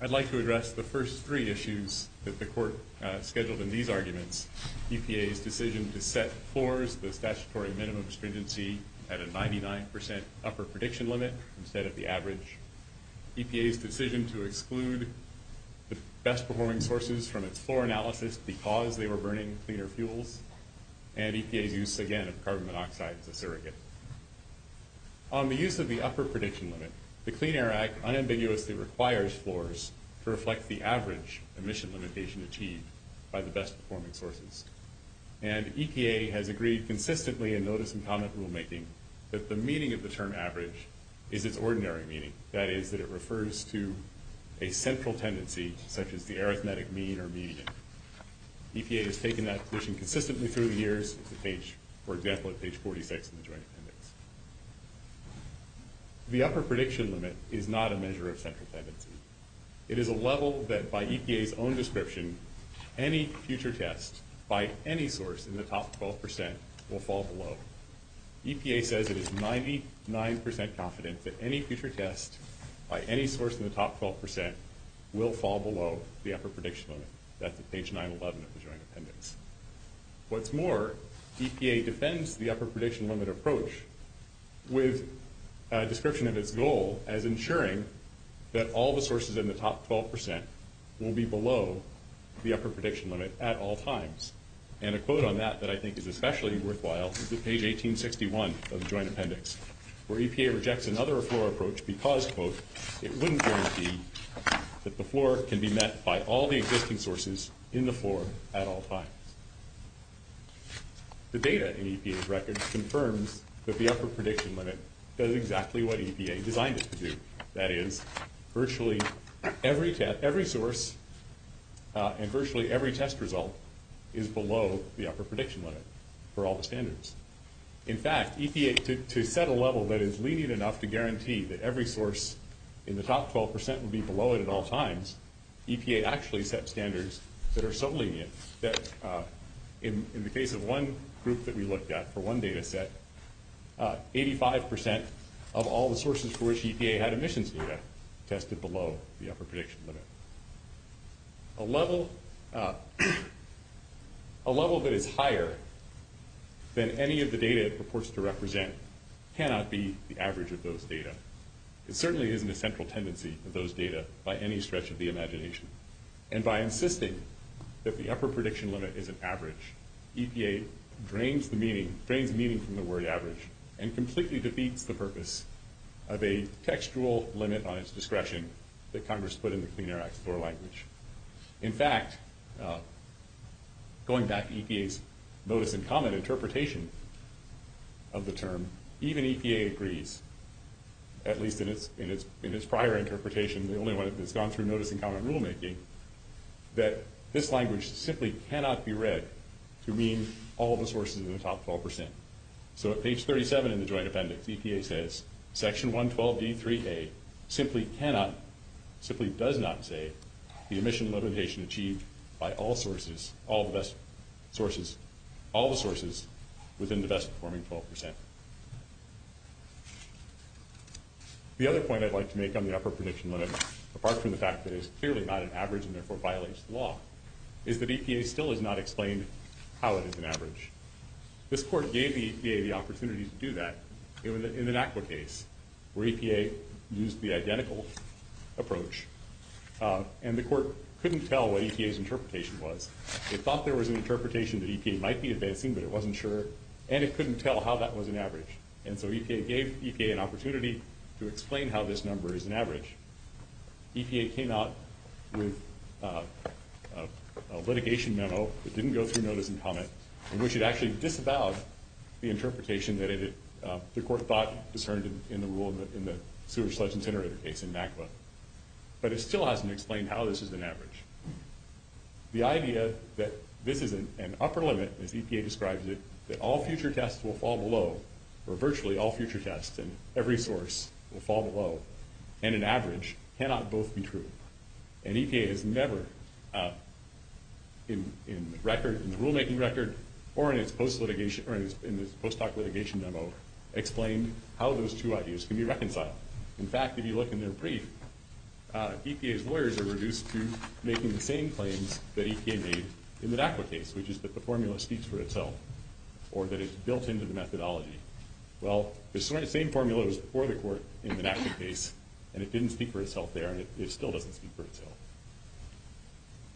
I'd like to address the first three issues that the Court scheduled in these arguments. EPA's decision to set scores for the statutory minimum stringency at a 99% upper prediction limit instead of the average, EPA's decision to exclude the best-performing sources from its floor analysis because they were burning cleaner fuels, and EPA's use, again, of carbon monoxide as a surrogate. On the use of the upper prediction limit, the Clean Air Act unambiguously requires floors to reflect the average emission limitation achieved by the best-performing sources. And EPA has agreed consistently in notice and comment rulemaking that the meaning of the term average is its ordinary meaning, that is, that it refers to a central tendency such as the arithmetic mean or median. EPA has taken that position consistently through the years, for example, at page 46 of the Joint Amendments. The upper prediction limit is not a measure of central tendency. It is a level that, by EPA's own description, any future test by any source in the top 12% will fall below. EPA says it is 99% confident that any future test by any source in the top 12% will fall below the upper prediction limit. That's at page 911 of the Joint Amendments. What's more, EPA defends the upper prediction limit approach with a description of its goal as ensuring that all the sources in the top 12% will be below the upper prediction limit at all times. And a quote on that that I think is especially worthwhile is at page 1861 of the Joint Appendix, where EPA rejects another floor approach because, quote, it wouldn't guarantee that the floor can be met by all the existing sources in the floor at all times. The data in EPA's records confirms that the upper prediction limit does exactly what EPA designed it to do, that is, virtually every source and virtually every test result is below the upper prediction limit for all the standards. In fact, EPA, to set a level that is lenient enough to guarantee that every source in the top 12% will be below it at all times, EPA actually set standards that are so lenient that in the case of one group that we looked at for one data set, 85% of all the sources for which EPA had emissions data tested below the upper prediction limit. A level that is higher than any of the data it purports to represent cannot be the average of those data. It certainly isn't a central tendency for those data by any stretch of the imagination. And by insisting that the upper prediction limit is an average, EPA drains the meaning – drains the meaning from the word average and completely defeats the purpose of a textual limit on its discretion that Congress put in the Clean Air Act before language. In fact, going back to EPA's notice and comment interpretation of the term, even EPA agrees, at least in its prior interpretation, the only one that has gone through notice and comment rulemaking, that this language simply cannot be read to mean all the sources in the top 12%. So at page 37 in the joint appendix, EPA says, Section 112b3a simply cannot – simply does not say the emission limitation achieved by all sources – all the best sources – all the sources within the best performing 12%. The other point I'd like to make on the upper prediction limit, apart from the fact that it is clearly not an average and therefore violates the law, is that EPA still has not explained how it is an average. This court gave EPA the opportunity to do that in an ACWA case where EPA used the identical approach, and the court couldn't tell what EPA's interpretation was. It thought there was an interpretation that EPA might be advancing, but it wasn't sure, and it couldn't tell how that was an average. And so EPA gave EPA an opportunity to explain how this number is an average. EPA came out with a litigation memo that didn't go through notice and comment, and which had actually disavowed the interpretation that it had – the court thought it was in the rule in the sewer sludge incinerator case in ACWA. But it still hasn't explained how this is an average. The idea that this is an upper limit, as EPA describes it, that all future tests will fall below, and an average, cannot both be true. And EPA has never, in the rulemaking record or in its post-doc litigation memo, explained how those two ideas can be reconciled. In fact, if you look in their brief, EPA's lawyers are reduced to making the same claims that EPA made in the ACWA case, which is that the formula speaks for itself, or that it's built into the methodology. Well, the same formula was before the court in the NACA case, and it didn't speak for itself there, and it still doesn't speak for itself.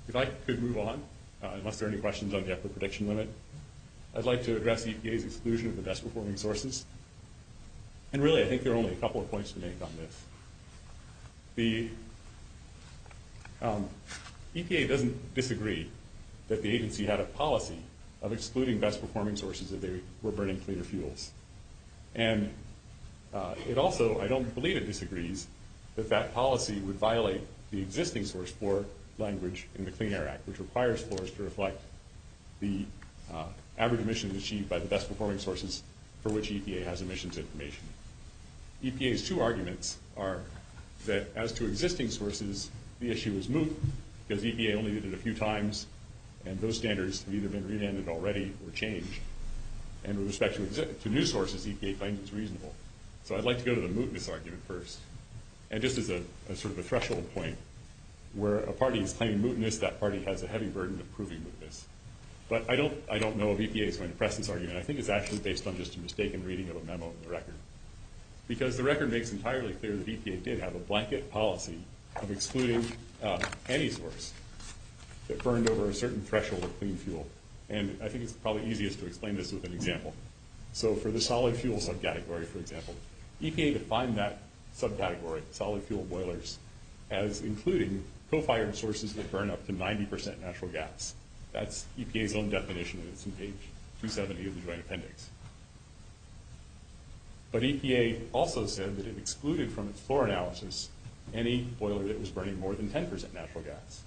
If I could move on, unless there are any questions on the effort prediction limit, I'd like to address EPA's exclusion of the best-performing sources. And really, I think there are only a couple of points to make on this. The – EPA doesn't disagree that the agency had a policy of excluding best-performing sources if they were burning cleaner fuels. And it also – I don't believe it disagrees that that policy would violate the existing source for language in the Clean Air Act, which requires for us to reflect the average emissions achieved by the best-performing sources for which EPA has emissions information. EPA's two arguments are that as to existing sources, the issue is moot, because EPA only excluded a few times, and those standards have either been renamed already or changed. And with respect to new sources, EPA finds it's reasonable. So I'd like to go to the mootness argument first. And this is a – sort of a threshold point where a party is claiming mootness, that party has a heavy burden of proving mootness. But I don't know of EPA's kind of precedent argument. I think it's actually based on just a mistaken reading of a memo in the record. Because the record makes entirely clear that EPA did have a blanket policy of excluding any source that burned over a certain threshold of clean fuel. And I think it's probably easiest to explain this as an example. So for the solid fuel subcategory, for example, EPA defined that subcategory, solid fuel boilers, as including co-fired sources that burn up to 90 percent natural gas. That's EPA's own definition, and it's in page 270 of the joint appendix. But EPA also said that it excluded from its floor analysis any boiler that was burning more than 10 percent natural gas.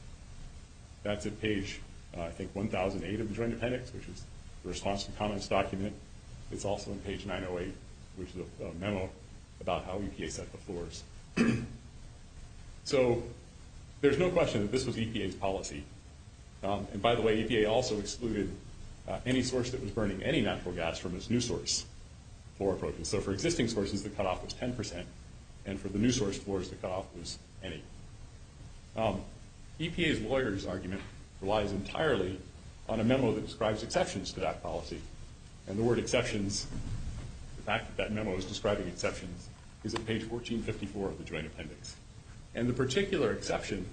That's at page, I think, 1008 of the joint appendix, which is the response to comments document. It's also on page 908, which is a memo about how EPA set up the floors. So there's no question that this was EPA's policy. And by the way, EPA also excluded any source that was burning any natural gas from its new source floor approach. And so for existing sources, the cutoff was 10 percent, and for the new source floors, the cutoff was any. EPA's lawyer's argument relies entirely on a memo that describes exceptions to that policy. And the word exceptions, the fact that that memo is describing exceptions, is at page 1454 of the joint appendix. And the particular exception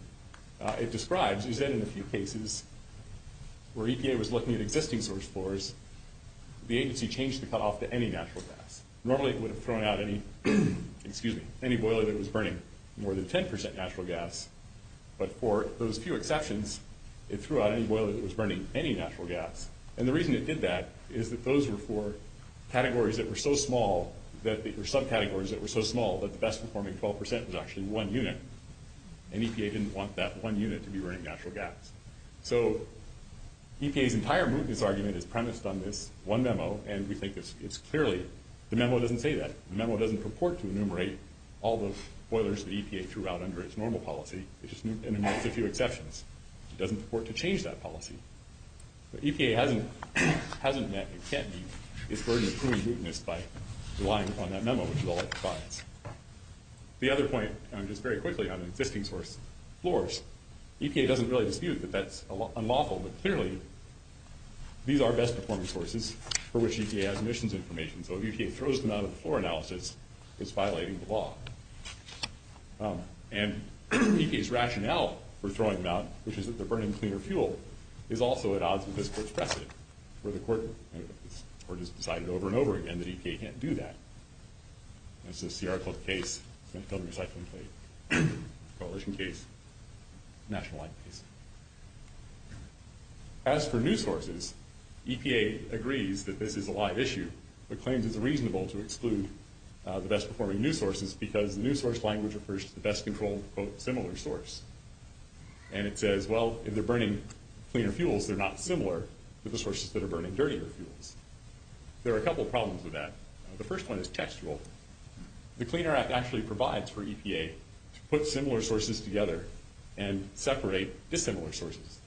it describes is that in a few cases where EPA was looking at existing source floors, the agency changed the cutoff to any natural gas. Normally it would have thrown out any, excuse me, any boiler that was burning more than 10 percent natural gas. But for those few exceptions, it threw out any boiler that was burning any natural gas. And the reason it did that is that those were for categories that were so small that they were subcategories that were so small that the best performing 12 percent was actually one unit. And EPA didn't want that one unit to be burning natural gas. So EPA's entire mootness argument is premised on this one memo, and we think it's clearly – the memo doesn't say that. The memo doesn't purport to enumerate all the boilers that EPA threw out under its normal policy. It just enumerates a few exceptions. It doesn't purport to change that policy. But EPA hasn't met, or can't meet, its burden of proving mootness by relying on that memo, which is all it decides. The other point, and just very quickly on the existing source floors, EPA doesn't really dispute that that's unlawful, but clearly these are best performing sources for which EPA has emissions information. So if EPA throws them out of the floor analysis, it's violating the law. And EPA's rationale for throwing them out, which is that they're burning cleaner fuel, is also at odds with this court's precedent, where the court has decided over and over again that EPA can't do that. This is the Arcliffe case, Montgomery Cyclone case, Carleton case, National Island case. As for new sources, EPA agrees that this is a live issue, but claims it's reasonable to exclude the best performing new sources because the new source language refers to the best controlled, quote, similar source. And it says, well, if they're burning cleaner fuels, they're not similar to the sources that are burning dirtier fuels. There are a couple problems with that. The first one is textual. The Cleaner Act actually provides for EPA to put similar sources together and separate dissimilar sources.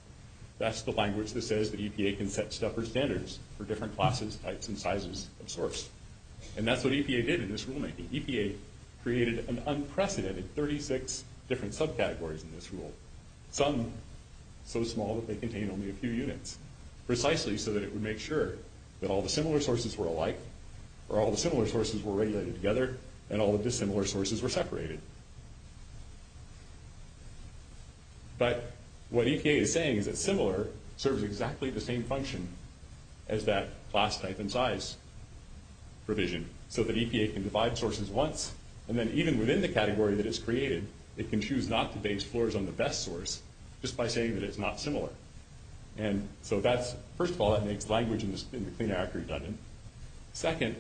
That's the language that says that EPA can set separate standards for different classes, types, and sizes of source. And that's what EPA did in this rulemaking. EPA created an unprecedented 36 different subcategories in this rule, some so small that they contained only a few units, precisely so that it would make sure that all the similar sources were alike, or all the similar sources were regulated together, and all the dissimilar sources were separated. But what EPA is saying is that similar serves exactly the same function as that class, type, and size provision, so that EPA can divide sources once, and then even within the category that it's created, it can choose not to base floors on the best source just by saying that it's not similar. First of all, that makes language in the Cleaner Act redundant. Second,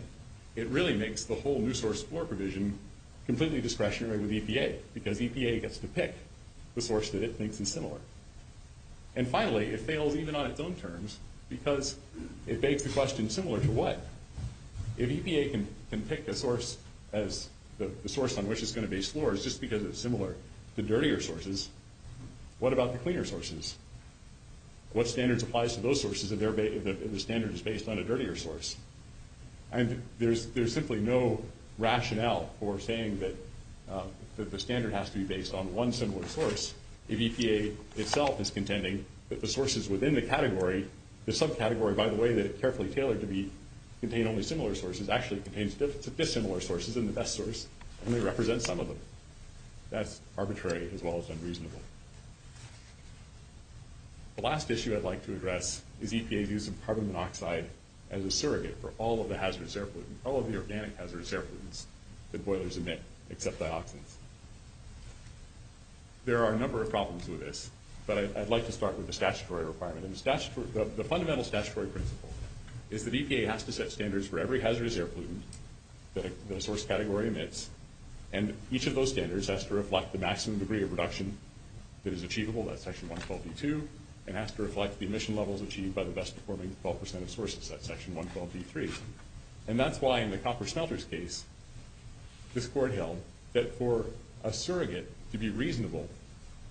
it really makes the whole new source floor provision completely discretionary with EPA, because EPA gets to pick the source that it thinks is similar. And finally, it fails even on its own terms, because it makes the question similar to what? If EPA can pick the source on which it's going to base floors just because it's similar to what standard applies to those sources if the standard is based on a dirtier source? There's simply no rationale for saying that the standard has to be based on one similar source if EPA itself is contending that the sources within the category, the subcategory by the way, that it carefully tailored to contain only similar sources, actually contains dissimilar sources than the best source, and it represents some of them. That's arbitrary as well as unreasonable. The last issue I'd like to address is EPA using carbon monoxide as a surrogate for all of the hazardous air pollutants, all of the organic hazardous air pollutants that boilers emit except dioxide. There are a number of problems with this, but I'd like to start with the statutory requirement. The fundamental statutory principle is that EPA has to set standards for every hazardous air pollutant that the source category emits, and each of those standards has to reflect the maximum degree of reduction that is achievable at Section 112.2, and has to reflect the emission levels achieved by the best performing 12% of sources at Section 112.3. And that's why in the copper smelters case, this court held that for a surrogate to be reasonable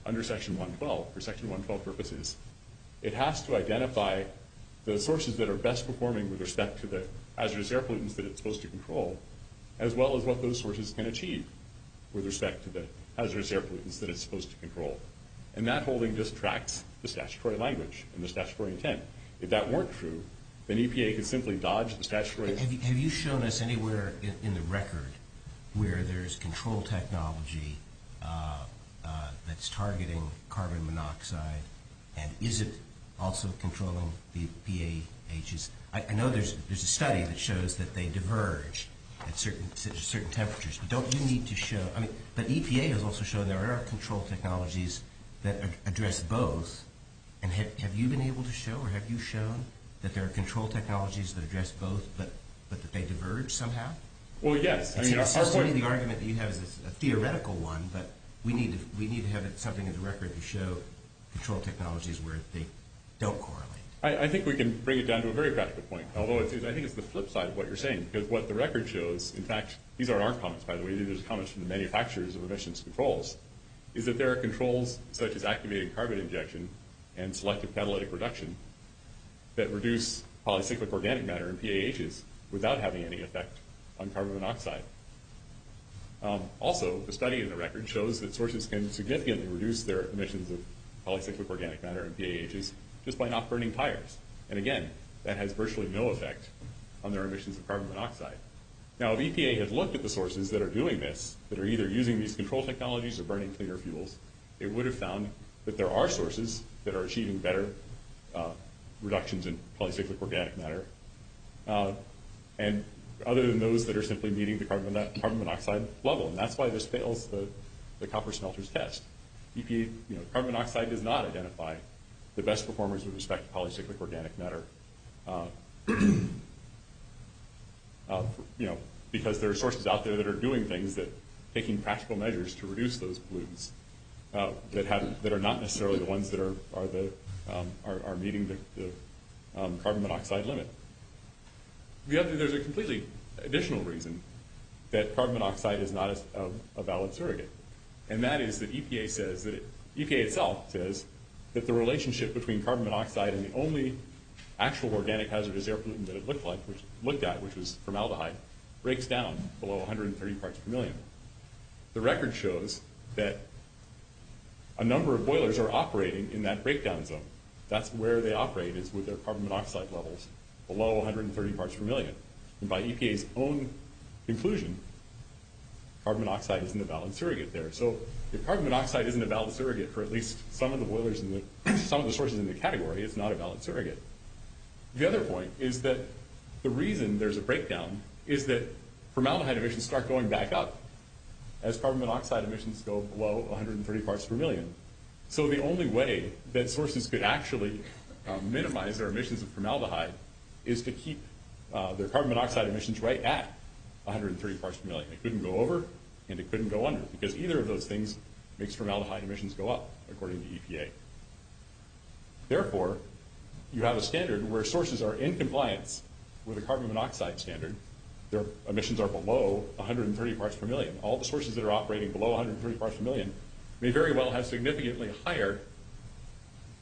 under Section 112, for Section 112 purposes, it has to identify the sources that are best performing with respect to the hazardous air pollutants that it's supposed to control, as well as what those sources can achieve with respect to the hazardous air pollutants that it's supposed to control. And that holding just tracks the statutory language and the statutory intent. If that weren't true, then EPA could simply dodge the statutory... Have you shown us anywhere in the record where there's control technology that's targeting carbon monoxide, and is it also controllable via PAHs? I know there's a study that shows that they diverge at certain temperatures, but don't you need to show... I mean, the EPA has also shown there are control technologies that address both, and have you been able to show, or have you shown that there are control technologies that address both, but that they diverge somehow? Well, yeah. I mean, the argument that you have is a theoretical one, but we need to have something in the record to show control technologies where they don't correlate. I think we can bring it down to a very practical point, although I think it's the flip side of what you're saying, because what the record shows... In fact, these aren't our comments, by the way. These are comments from the manufacturers of emissions controls, is that there are controls such as activating carbon injection and selective phthalate reduction that reduce polycyclic organic matter and PAHs without having any effect on carbon monoxide. Also, the study in the record shows that sources can significantly reduce their emissions of higher, and again, that has virtually no effect on their emissions of carbon monoxide. Now, if EPA had looked at the sources that are doing this, that are either using these control technologies or burning cleaner fuels, it would have found that there are sources that are achieving better reductions in polycyclic organic matter, and other than those that are simply meeting the carbon monoxide level, and that's why the copper smelters test. EPA's carbon monoxide does not identify the best performers in respect to polycyclic organic matter, because there are sources out there that are doing things, taking practical measures to reduce those pollutants that are not necessarily the ones that are meeting the carbon monoxide limit. There's a completely additional reason that carbon monoxide is not a valid surrogate, and that is that EPA itself says that the relationship between carbon monoxide and the only actual organic hazardous air pollutant that it looked at, which was formaldehyde, breaks down below 130 parts per million. The record shows that a number of boilers are operating in that breakdown zone. That's where they operate is with their carbon monoxide levels below 130 parts per million, and by EPA's own conclusion, carbon monoxide isn't a valid surrogate there. So if carbon monoxide isn't a valid surrogate for at least some of the sources in the category, it's not a valid surrogate. The other point is that the reason there's a breakdown is that formaldehyde emissions start going back up as carbon monoxide emissions go below 130 parts per million. So the only way that sources could actually minimize their emissions of formaldehyde is to keep their carbon monoxide emissions right at 130 parts per million. They couldn't go over, and they couldn't go under, because either of those things makes formaldehyde emissions go up, according to EPA. Therefore, you have a standard where sources are in compliance with a carbon monoxide standard if their emissions are below 130 parts per million. All the sources that are operating below 130 parts per million may very well have significantly higher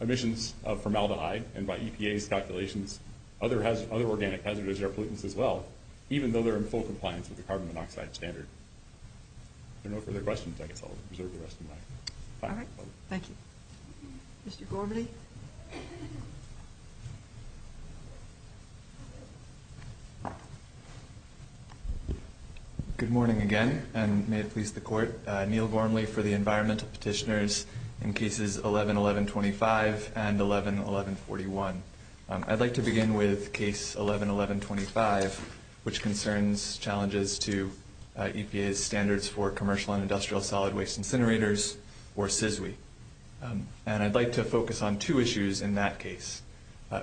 emissions of formaldehyde. And by EPA's calculations, other organic hazards are pollutants as well, even though they're in full compliance with the carbon monoxide standard. If there are no further questions, I guess I'll reserve the rest of the time. All right. Thank you. Mr. Gormley? Good morning again, and may it please the Court. My name is Neil Gormley for the Environmental Petitioners in Cases 11-1125 and 11-1141. I'd like to begin with Case 11-1125, which concerns challenges to EPA's Standards for Commercial and Industrial Solid Waste Incinerators, or CISWI. And I'd like to focus on two issues in that case.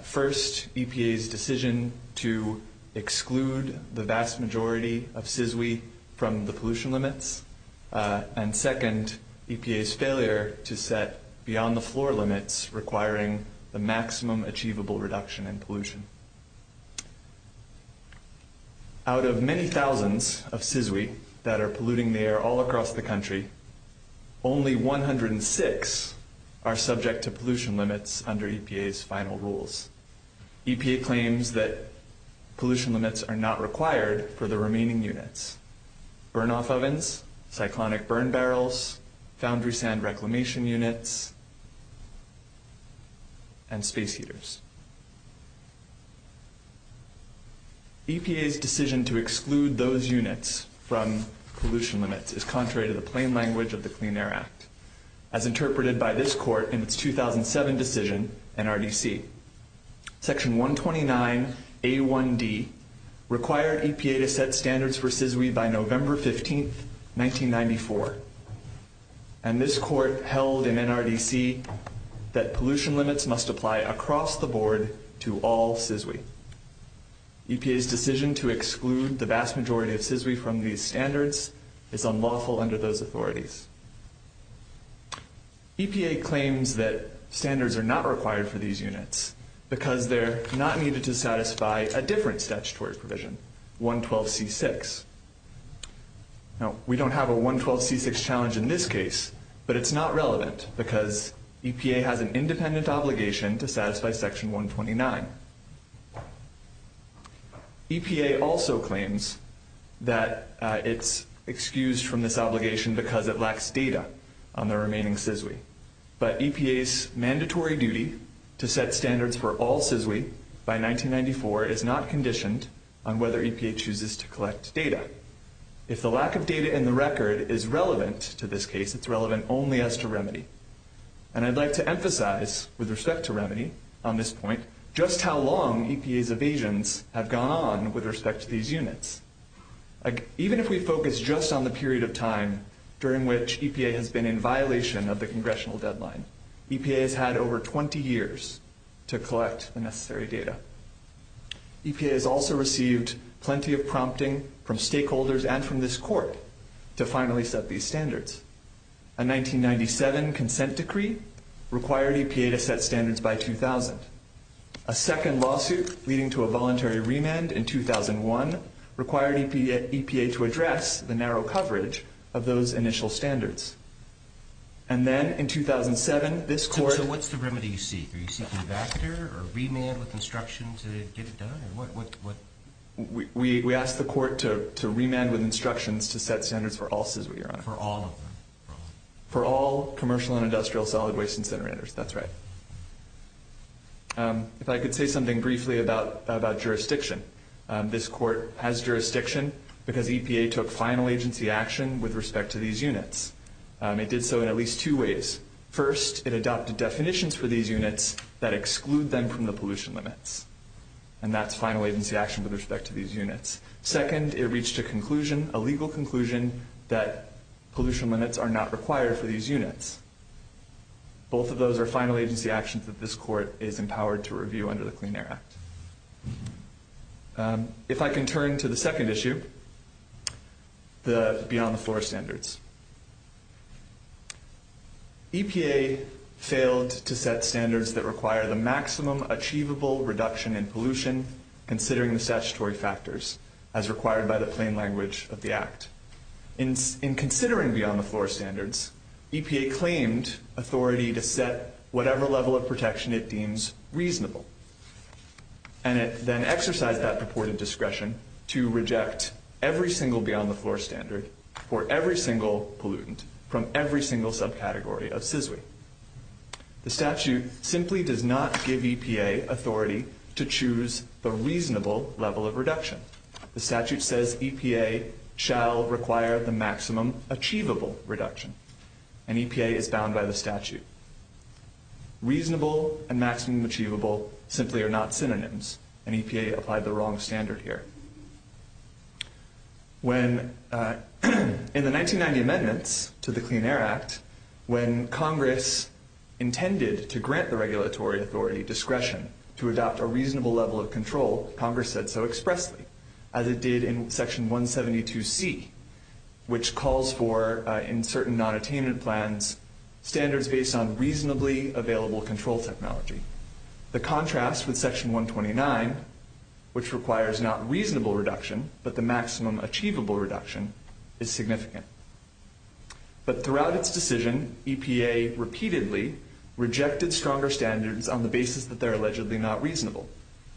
First, EPA's decision to exclude the vast majority of CISWI from the pollution limits. And second, EPA's failure to set beyond-the-floor limits requiring the maximum achievable reduction in pollution. Out of many thousands of CISWI that are polluting the air all across the country, only 106 are following environmental rules. EPA claims that pollution limits are not required for the remaining units. Burn-off ovens, cyclonic burn barrels, foundry sand reclamation units, and space heaters. EPA's decision to exclude those units from pollution limits is contrary to the plain language of the Clean Air Act. As interpreted by this court in its 2007 decision, NRDC, Section 129A1D required EPA to set standards for CISWI by November 15, 1994. And this court held in NRDC that pollution limits must apply across the board to all CISWI. EPA's decision to exclude the vast majority of CISWI from these standards is unlawful under those authorities. EPA claims that standards are not required for these units because they're not needed to satisfy a different statutory provision, 112C6. Now, we don't have a 112C6 challenge in this case, but it's not relevant because EPA has an independent obligation to satisfy Section 129. EPA also claims that it's excused from this obligation because it lacks data on the remaining CISWI. But EPA's mandatory duty to set standards for all CISWI by 1994 is not conditioned on whether EPA chooses to collect data. If the lack of data in the record is relevant to this case, it's relevant only as to remedy. And I'd like to emphasize, with respect to remedy on this point, just how long EPA's evasions have gone on with respect to these units. Even if we focus just on the period of time during which EPA has been in violation of the congressional deadline, EPA has had over 20 years to collect the necessary data. EPA has also received plenty of prompting from stakeholders and from this court to finally set these standards. A 1997 consent decree required EPA to set standards by 2000. A second lawsuit, leading to a voluntary remand in 2001, required EPA to address the narrow coverage of those initial standards. And then, in 2007, this court... So what's the remedy you seek? Are you seeking a backer or remand with instructions to get it done? We ask the court to remand with instructions to set standards for all CISWI. For all? For all. For all commercial and industrial solid waste incinerators. That's right. If I could say something briefly about jurisdiction. This court has jurisdiction because EPA took final agency action with respect to these units. It did so in at least two ways. First, it adopted definitions for these units that exclude them from the pollution limits. And that's final agency action with respect to these units. Second, it reached a conclusion, a legal conclusion, that pollution limits are not required for these units. Both of those are final agency actions that this court is empowered to review under the Clean Air Act. If I can turn to the second issue, the beyond the floor standards. EPA failed to set standards that require the maximum achievable reduction in pollution, considering the statutory factors as required by the plain language of the Act. In considering beyond the floor standards, EPA claimed authority to set whatever level of protection it deems reasonable. And it then exercised that purported discretion to reject every single beyond the floor standard for every single pollutant from every single subcategory of CISWI. The statute simply does not give EPA authority to choose the reasonable level of reduction. The statute says EPA shall require the maximum achievable reduction. And EPA is bound by the statute. Reasonable and maximum achievable simply are not synonyms. And EPA applied the wrong standard here. When – in the 1990 amendments to the Clean Air Act, when Congress intended to grant the regulatory authority discretion to adopt a reasonable level of control, Congress said so expressly, as it did in Section 172C, which calls for, in certain nonattainment plans, standards based on reasonably available control technology. The contrast with Section 129, which requires not reasonable reduction, but the maximum achievable reduction, is significant. But throughout its decision, EPA repeatedly rejected stronger standards on the basis that they're allegedly not reasonable,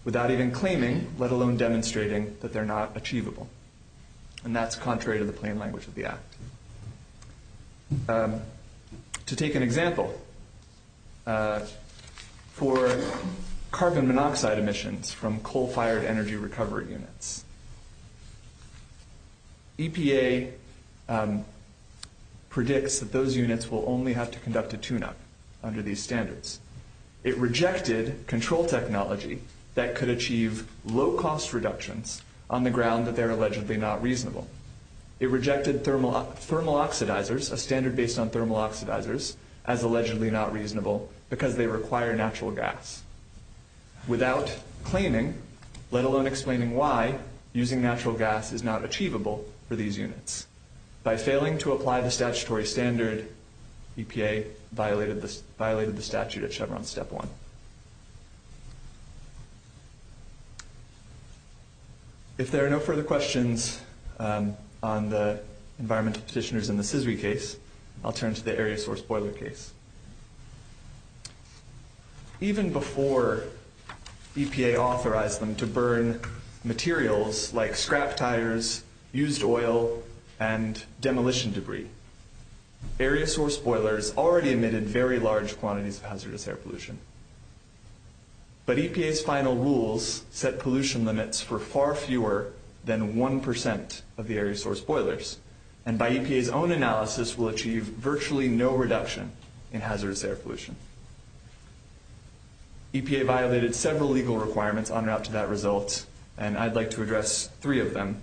without even claiming, let alone demonstrating, that they're not achievable. To take an example, for carbon monoxide emissions from coal-fired energy recovery units, EPA predicts that those units will only have to conduct a tune-up under these standards. It rejected control technology that could achieve low-cost reductions on the ground that they're allegedly not reasonable. It rejected thermal oxidizers, a standard based on thermal oxidizers, as allegedly not reasonable because they require natural gas, without claiming, let alone explaining why using natural gas is not achievable for these units. By failing to apply the statutory standard, EPA violated the statute at Chevron Step 1. If there are no further questions on the environmental petitioners in the CSRI case, I'll turn to the area source boiler case. Even before EPA authorized them to burn materials like scrap tires, used oil, and demolition debris, area source boilers already emitted very large quantities of hazardous air pollution. But EPA's final rules set pollution limits for far fewer than 1% of the area source boilers, and by EPA's own analysis, will achieve virtually no reduction in hazardous air pollution. EPA violated several legal requirements on route to that result, and I'd like to address three of them.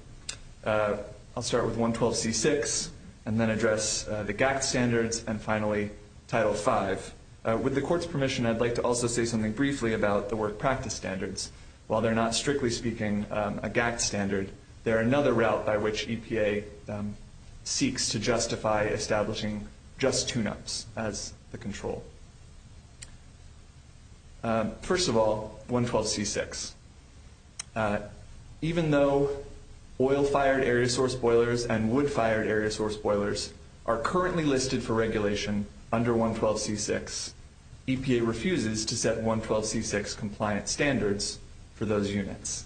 I'll start with 112C6, and then address the GAC standards, and finally, Title 5. With the court's permission, I'd like to also say something briefly about the work practice standards. While they're not, strictly speaking, a GAC standard, they're another route by which EPA seeks to justify establishing just two notes as the control. First of all, 112C6. Even though oil-fired area source boilers and wood-fired area source boilers are currently listed for regulation under 112C6, EPA refuses to set 112C6 compliance standards for those units.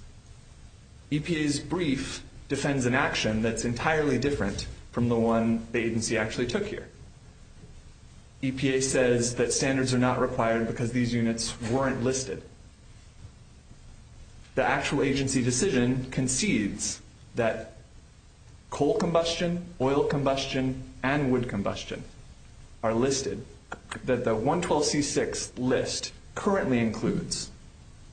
EPA's brief defends an action that's entirely different from the one the agency actually took here. EPA says that standards are not required because these units weren't listed. The actual agency decision concedes that coal combustion, oil combustion, and wood combustion are listed, that the 112C6 list currently includes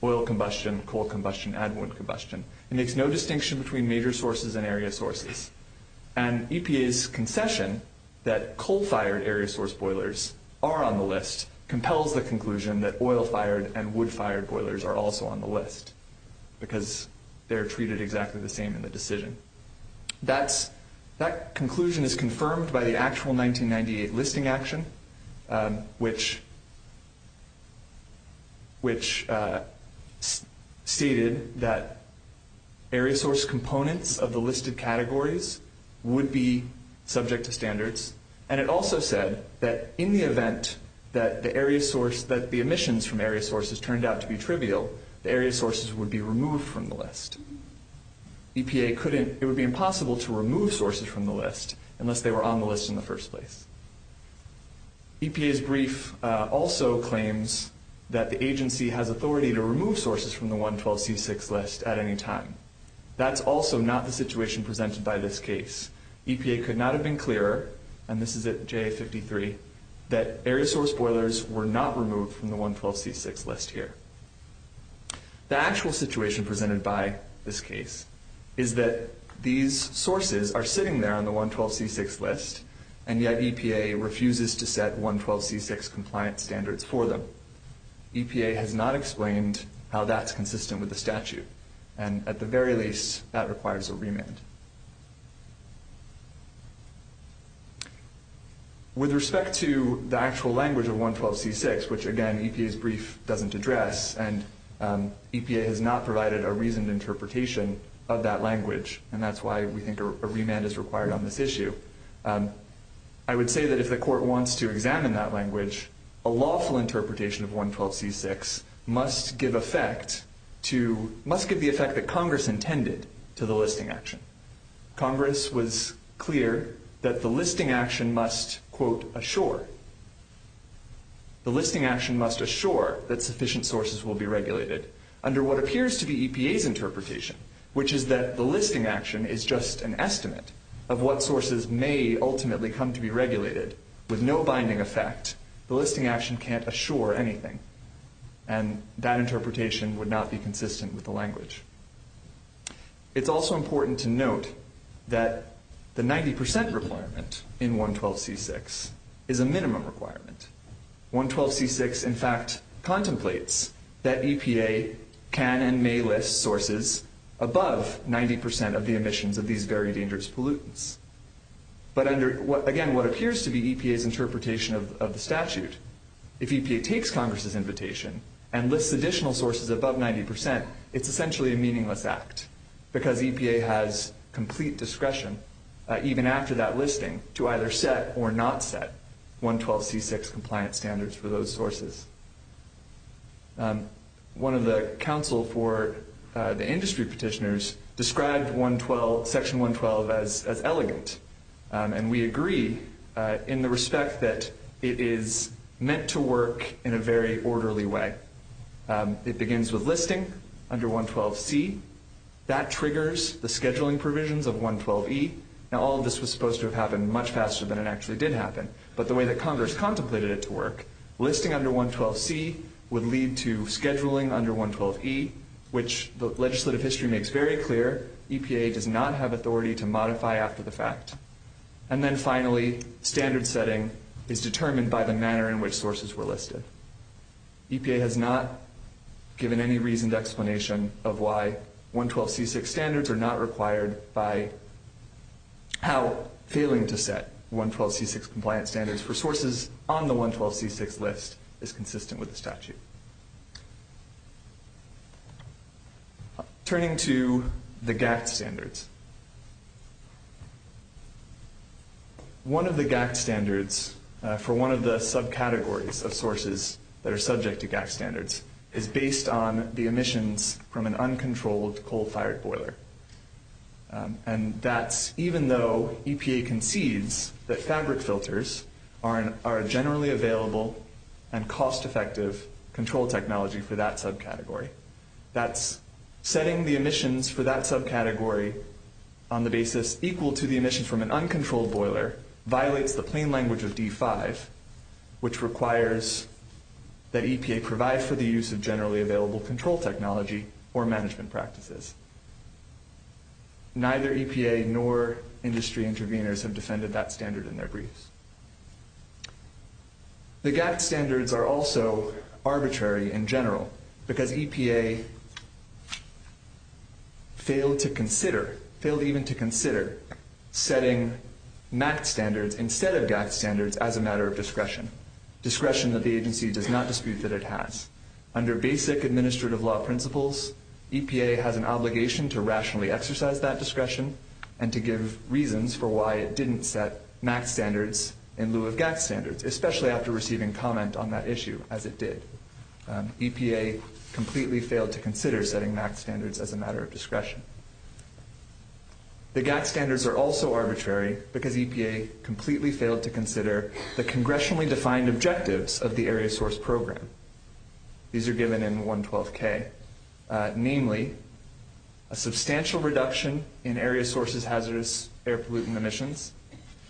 oil combustion, coal combustion, and wood combustion, and makes no distinction between major sources and area sources. EPA's concession that coal-fired area source boilers are on the list compels the conclusion that oil-fired and wood-fired boilers are also on the list because they're treated exactly the same in the decision. That conclusion is confirmed by the actual 1998 listing action, which stated that area source components of the listed categories would be subject to standards, and it also said that in the event that the emissions from area sources turned out to be trivial, the area sources would be removed from the list. EPA couldn't, it would be impossible to remove sources from the list unless they were on the list in the first place. EPA's brief also claims that the agency has authority to remove sources from the 112C6 list at any time. That is also not the situation presented by this case. EPA could not have been clearer, and this is at J53, that area source boilers were not removed from the 112C6 list here. The actual situation presented by this case is that these sources are sitting there on the 112C6 list, and yet EPA refuses to set 112C6 compliance standards for them. EPA has not explained how that's consistent with the statute, and at the very least, that requires a remand. With respect to the actual language of 112C6, which again EPA's brief doesn't address, and EPA has not provided a reasoned interpretation of that language, and that's why we think a remand is required on this issue, I would say that if the court wants to examine that language, a lawful interpretation of 112C6 must give effect to, must give the effect that Congress intended to the listing action. Congress was clear that the listing action must, quote, assure. The listing action must assure that sufficient sources will be regulated under what appears to be EPA's interpretation, which is that the listing action is just an estimate of what sources may ultimately come to be regulated. With no binding effect, the listing action can't assure anything, and that interpretation would not be consistent with the language. It's also important to note that the 90% requirement in 112C6 is a minimum requirement. 112C6, in fact, contemplates that EPA can and may list sources above 90% of the emissions of these very dangerous pollutants. But under, again, what appears to be EPA's interpretation of the statute, if EPA takes Congress's invitation and lists additional sources above 90%, it's essentially a meaningless act because EPA has complete discretion, even after that listing, to either set or not set 112C6 compliance standards for those sources. One of the counsel for the industry petitioners described 112, Section 112, as elegant, and we agreed in the respect that it is meant to work in a very orderly way. It begins with listing under 112C. That triggers the scheduling provisions of 112E. Now, all of this was supposed to have happened much faster than it actually did happen, but the way that Congress contemplated it to work, listing under 112C would lead to scheduling under 112E, which the legislative history makes very clear, EPA does not have authority to modify after the fact. And then finally, standard setting is determined by the manner in which sources were listed. EPA has not given any reasoned explanation of why 112C6 standards are not required by how failing to set 112C6 compliance standards for sources on the 112C6 list is consistent with the statute. Turning to the GAC standards. One of the GAC standards for one of the subcategories of sources that are subject to GAC standards is based on the emissions from an uncontrolled coal-fired boiler. And that's even though EPA concedes that fabric filters are a generally available and cost-effective control technology for that subcategory. That's setting the emissions for that subcategory on the basis equal to the emissions from an uncontrolled boiler violates the plain language of D5, which requires that EPA provide for the use of generally available control technology or management practices. Neither EPA nor industry intervenors have defended that standard in their briefs. The GAC standards are also arbitrary in general because EPA failed to consider setting MAC standards instead of GAC standards as a matter of discretion. Discretion that the agency does not dispute that it has. Under basic administrative law principles, EPA has an obligation to rationally exercise that discretion and to give reasons for why it didn't set MAC standards in lieu of GAC standards, especially after receiving comment on that issue as it did. EPA completely failed to consider setting MAC standards as a matter of discretion. The GAC standards are also arbitrary because EPA completely failed to consider the congressionally defined objectives of the area source program. These are given in 112K, namely a substantial reduction in area sources hazardous air pollutant emissions,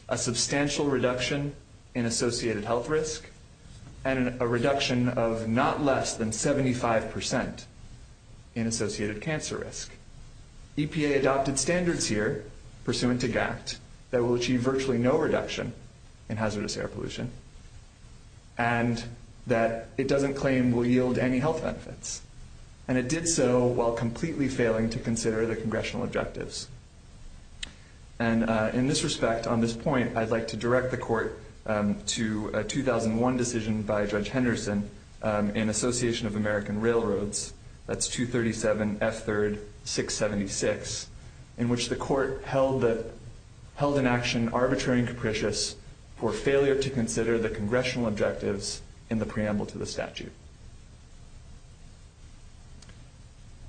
a substantial reduction in associated health risk, and a reduction of not less than 75% in associated cancer risk. EPA adopted standards here pursuant to GAC that will achieve virtually no reduction in hazardous air pollution and that it doesn't claim will yield any health benefits. And it did so while completely failing to consider the congressional objectives. And in this respect, on this point, I'd like to direct the court to a 2001 decision by Judge Henderson in Association of American Railroads, that's 237S3-676, in which the court held in action arbitrary and capricious for failure to consider the congressional objectives in the preamble to the statute.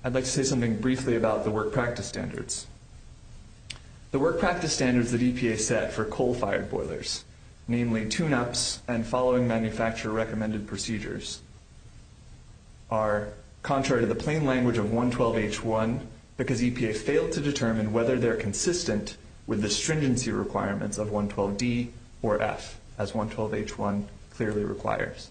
I'd like to say something briefly about the work practice standards. The work practice standards that EPA set for coal-fired boilers, namely tune-ups and following manufacturer-recommended procedures, are contrary to the plain language of 112H1 because EPA failed to determine whether they're consistent with the stringency requirements of 112D or F, as 112H1 clearly requires.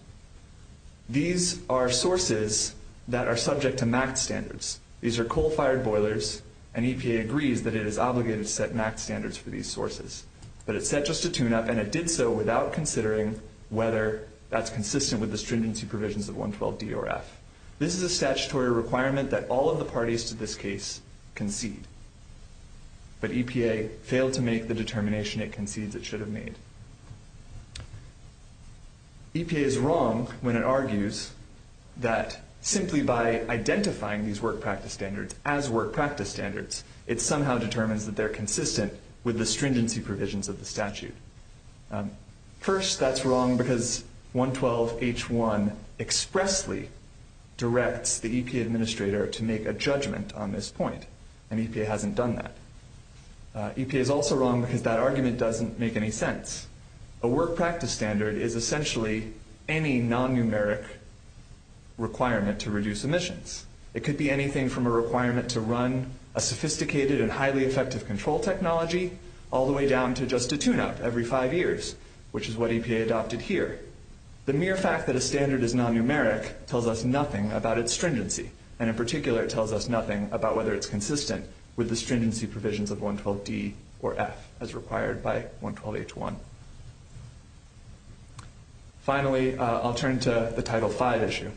These are sources that are subject to MAC standards. These are coal-fired boilers, and EPA agrees that it is obligated to set MAC standards for these sources. But it set just a tune-up, and it did so without considering whether that's consistent with the stringency provisions of 112D or F. This is a statutory requirement that all of the parties to this case concede, but EPA failed to make the determination it concedes it should have made. EPA is wrong when it argues that simply by identifying these work practice standards as work practice standards, it somehow determines that they're consistent with the stringency provisions of the statute. First, that's wrong because 112H1 expressly directs the EPA administrator to make a judgment on this point, and EPA hasn't done that. EPA is also wrong because that argument doesn't make any sense. A work practice standard is essentially any non-numeric requirement to reduce emissions. It could be anything from a requirement to run a sophisticated and highly effective control technology all the way down to just a tune-up every five years, which is what EPA adopted here. The mere fact that a standard is non-numeric tells us nothing about its stringency, and in particular, it tells us nothing about whether it's consistent with the stringency provisions of 112D or F as required by 112H1. Finally, I'll turn to the Title V issue.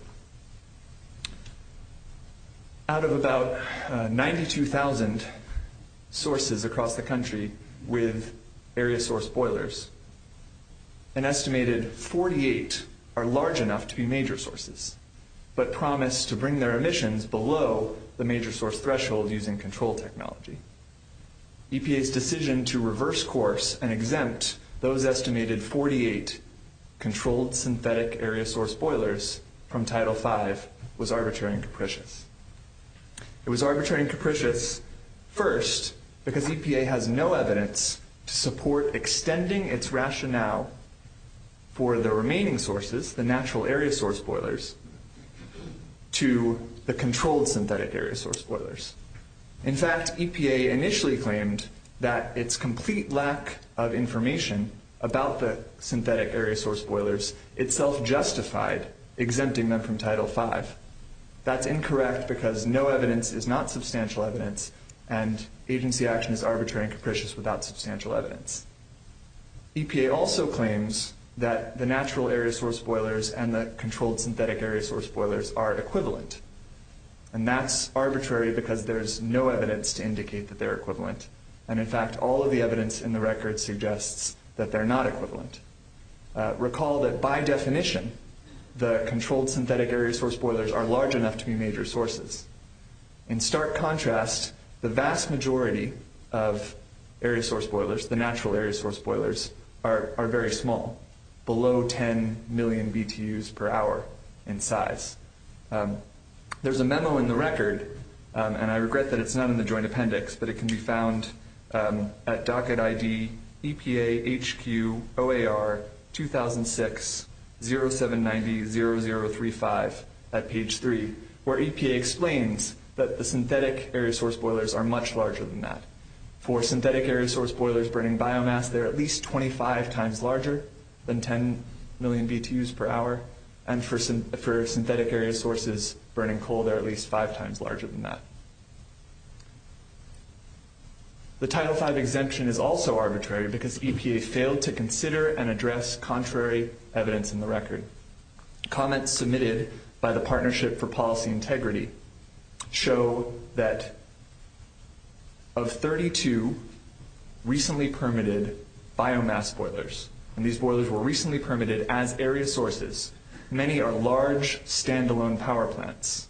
Out of about 92,000 sources across the country with area source boilers, an estimated 48 are large enough to be major sources, but promise to bring their emissions below the major source threshold using control technology. EPA's decision to reverse course and exempt those estimated 48 controlled synthetic area source boilers from Title V was arbitrary and capricious. It was arbitrary and capricious, first, because EPA has no evidence to support extending its rationale for the remaining sources, the natural area source boilers, to the controlled synthetic area source boilers. In fact, EPA initially claimed that its complete lack of information about the synthetic area source boilers itself justified exempting them from Title V. That's incorrect because no evidence is not substantial evidence, and agency action is arbitrary and capricious without substantial evidence. EPA also claims that the natural area source boilers and the controlled synthetic area source boilers are equivalent, and that's arbitrary because there's no evidence to indicate that they're equivalent, and in fact, all of the evidence in the record suggests that they're not equivalent. Recall that by definition, the controlled synthetic area source boilers are large enough to be major sources. In stark contrast, the vast majority of area source boilers, the natural area source boilers, are very small, below 10 million BTUs per hour in size. There's a memo in the record, and I regret that it's not in the joint appendix, but it can be found at docket ID EPA HQ OAR 2006-0790-0035 at page 3, where EPA explains that the synthetic area source boilers are much larger than that. For synthetic area source boilers burning biomass, they're at least 25 times larger than 10 million BTUs per hour, and for synthetic area sources burning coal, they're at least five times larger than that. The Title V exemption is also arbitrary because EPA failed to consider and address contrary evidence in the record. Comments submitted by the Partnership for Policy Integrity show that of 32 recently permitted biomass boilers, and these boilers were recently permitted as area sources, many are large standalone power plants,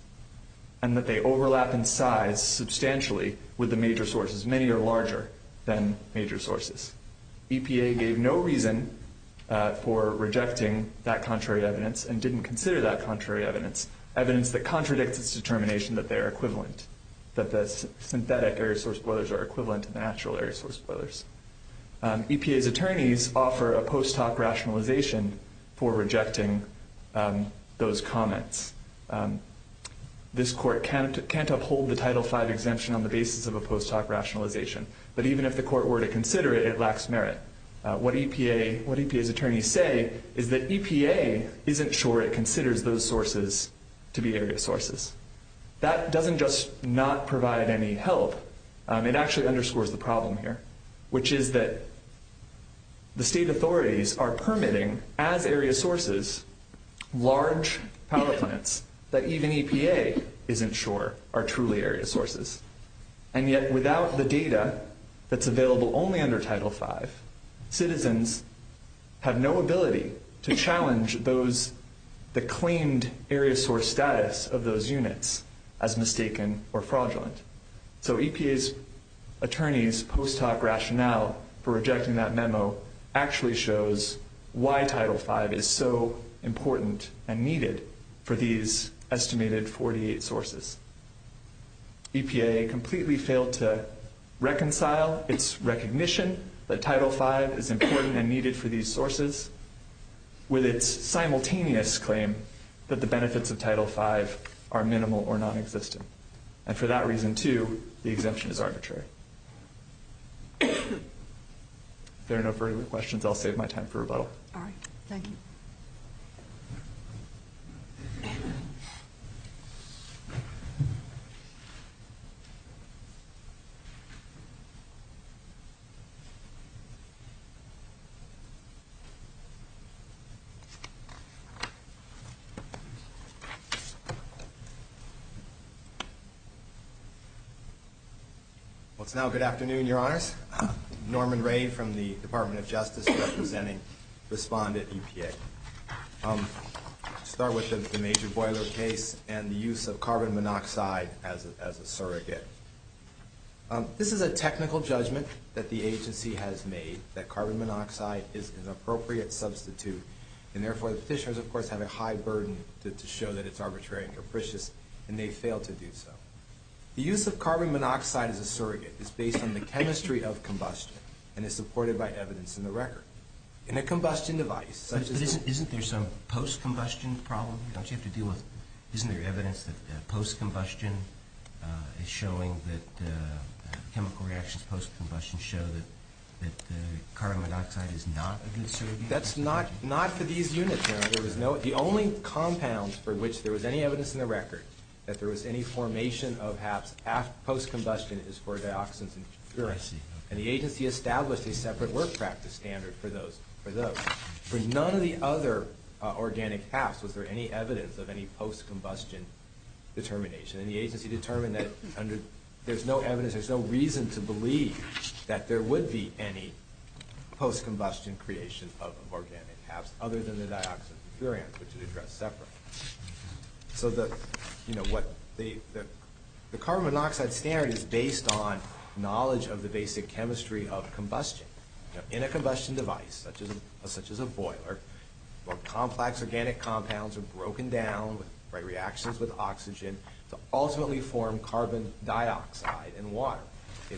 and that they overlap in size substantially with the major sources. Many are larger than major sources. EPA gave no reason for rejecting that contrary evidence and didn't consider that contrary evidence, evidence that contradicted its determination that they are equivalent, that the synthetic area source boilers are equivalent to natural area source boilers. EPA's attorneys offer a post hoc rationalization for rejecting those comments. This court can't uphold the Title V exemption on the basis of a post hoc rationalization, but even if the court were to consider it, it lacks merit. What EPA's attorneys say is that EPA isn't sure it considers those sources to be area sources. That doesn't just not provide any help. It actually underscores the problem here, which is that the state authorities are permitting as area sources, large power plants that even EPA isn't sure are truly area sources, and yet without the data that's available only under Title V, citizens have no ability to challenge the claimed area source status of those units as mistaken or fraudulent. So EPA's attorneys' post hoc rationale for rejecting that memo actually shows why Title V is so important and needed for these estimated 48 sources. EPA completely failed to reconcile its recognition that Title V is important and needed for these sources with its simultaneous claim that the benefits of Title V are minimal or nonexistent. And for that reason, too, the exemption is arbitrary. If there are no further questions, I'll save my time for rebuttal. All right. Thank you. Well, it's now good afternoon, Your Honors. Norman Ray from the Department of Justice just presented Respondent EPA. I'll start with the major boiler case and the use of carbon monoxide as a surrogate. This is a technical judgment that the agency has made that carbon monoxide is an appropriate substitute, and therefore the fishers, of course, have a high burden to show that it's arbitrary and capricious, and they failed to do so. The use of carbon monoxide as a surrogate is based on the chemistry of combustion and is supported by evidence in the record. In a combustion device, such as a— Isn't there some post-combustion problem? Don't you have to deal with—isn't there evidence that post-combustion is showing that chemical reactions post-combustion show that carbon monoxide is not a good surrogate? That's not for these units, Your Honor. There was no—the only compound for which there was any evidence in the record that there was any formation of half post-combustion is for dioxins and furan, and the agency established a separate work practice standard for those. For none of the other organic halves was there any evidence of any post-combustion determination, and the agency determined that there's no evidence, there's no reason to believe that there would be any post-combustion creation of organic halves other than the dioxins and furans, which is addressed separately. So the carbon monoxide standard is based on knowledge of the basic chemistry of combustion. In a combustion device, such as a boiler, where complex organic compounds are broken down by reactions with oxygen, ultimately form carbon dioxide and water. The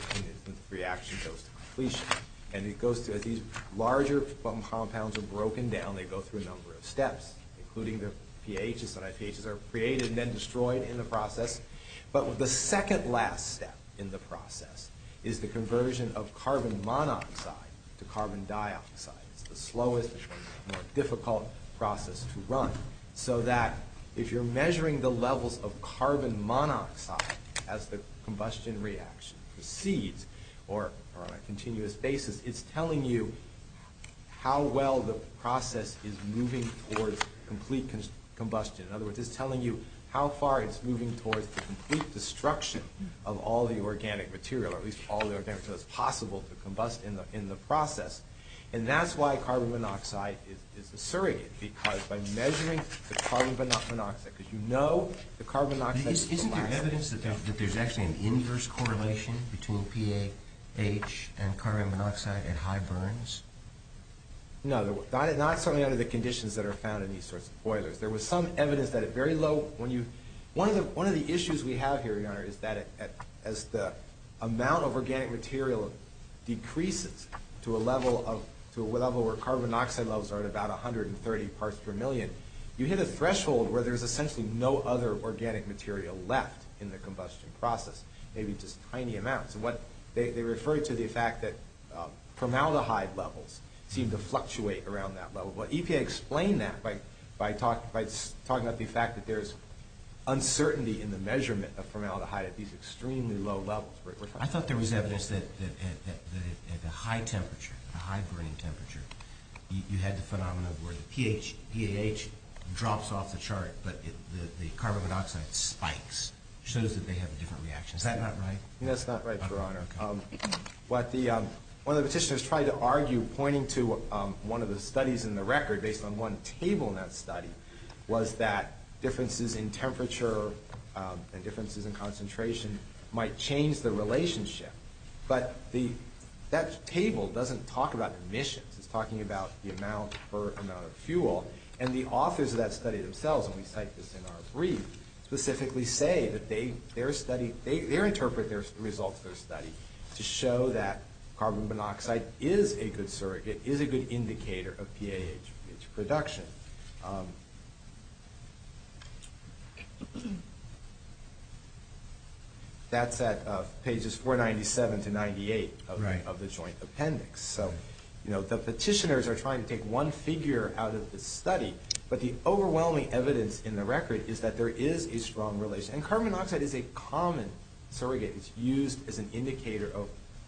reaction goes to completion, and it goes to— these larger compounds are broken down, they go through a number of steps, including the PAHs. The PAHs are created and then destroyed in the process. But the second last step in the process is the conversion of carbon monoxide to carbon dioxide. So that, if you're measuring the levels of carbon monoxide as the combustion reaction proceeds, or on a continuous basis, it's telling you how well the process is moving towards complete combustion. In other words, it's telling you how far it's moving towards the complete destruction of all the organic material, or at least all that's possible to combust in the process. And that's why carbon monoxide is the surrogate, because by measuring the carbon monoxide— because you know the carbon monoxide— Isn't there evidence that there's actually an inverse correlation between PAH and carbon monoxide at high burns? No, not certainly under the conditions that are found in these sorts of boilers. There was some evidence that at very low— one of the issues we have here, Leonard, is that as the amount of organic material decreases to a level where carbon monoxide levels are at about 130 parts per million, you hit a threshold where there's essentially no other organic material left in the combustion process, maybe just tiny amounts. They refer to the fact that formaldehyde levels seem to fluctuate around that level. EPA explained that by talking about the fact that there's uncertainty in the measurement of formaldehyde at these extremely low levels. I thought there was evidence that at the high temperature, the high burning temperature, you had the phenomenon where the PAH drops off the chart, but the carbon monoxide spikes, shows that they have a different reaction. Is that not right? That's not right, Your Honor. What one of the petitioners tried to argue, pointing to one of the studies in the record, based on one table in that study, was that differences in temperature and differences in concentration might change the relationship, but that table doesn't talk about emission. It's talking about the amount per amount of fuel, and the authors of that study themselves, and we cite this in R3, specifically say that they interpret the results of their study to show that carbon monoxide is a good surrogate, is a good indicator of PAH production. That's at pages 497 to 498 of the joint appendix. The petitioners are trying to take one figure out of the study, but the overwhelming evidence in the record is that there is a strong relation, and carbon monoxide is a common surrogate. It's used as an indicator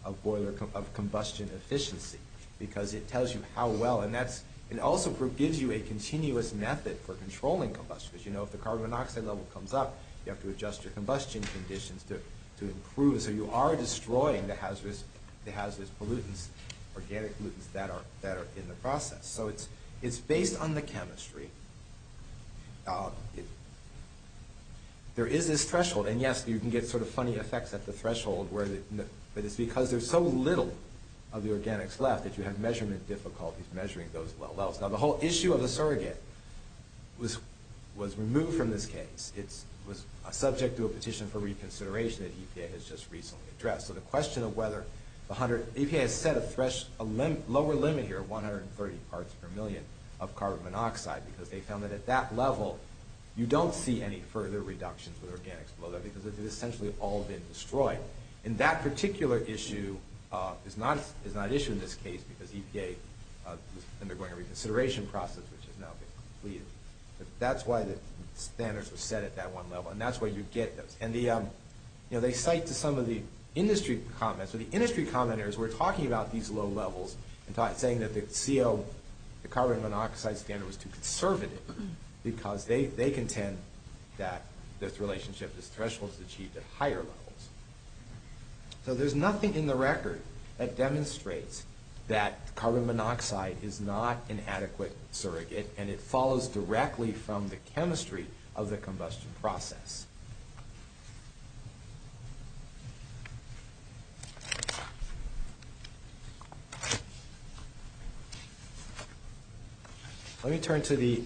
of combustion efficiency, because it tells you how well, and it also gives you a continuous method for controlling combustion. If the carbon monoxide level comes up, you have to adjust your combustion conditions to improve, so you are destroying the hazardous pollutants, organic pollutants that are in the process. It's based on the chemistry. There is this threshold, and yes, you can get funny effects at the threshold, but it's because there's so little of the organics left that you have measurement difficulties measuring those well. The whole issue of the surrogate was removed from this case. It was subject to a petition for reconsideration that EPA has just recently addressed. The question of whether 100... EPA has set a lower limit here, 130 parts per million of carbon monoxide, because they found that at that level, you don't see any further reduction for the organics below that, because it has essentially all been destroyed. That particular issue is not an issue in this case, because EPA is undergoing a reconsideration process, which is now being completed. That's why the standards are set at that one level, and that's where you get them. They cite some of the industry comments. The industry commenters were talking about these low levels and saying that the CO, the carbon monoxide standard, was too conservative, because they contend that this relationship, this threshold is achieved at higher levels. There's nothing in the record that demonstrates that carbon monoxide is not an adequate surrogate, and it follows directly from the chemistry of the combustion process. Let me turn to the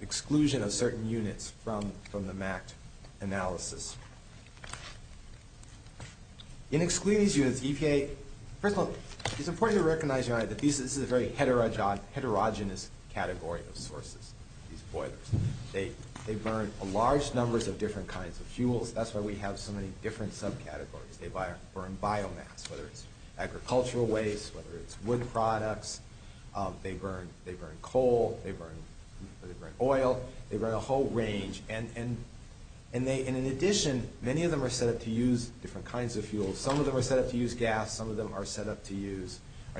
exclusion of certain units from the MAC analysis. In exclusions, EPA... First of all, it's important to recognize that this is a very heterogeneous category of sources. They burn large numbers of different kinds of fuels. That's why we have so many different subcategories. They burn biomass, whether it's agricultural waste, whether it's wood products. They burn coal. They burn oil. They burn a whole range. In addition, many of them are set up to use different kinds of fuels. Some of them are set up to use gas. Some of them are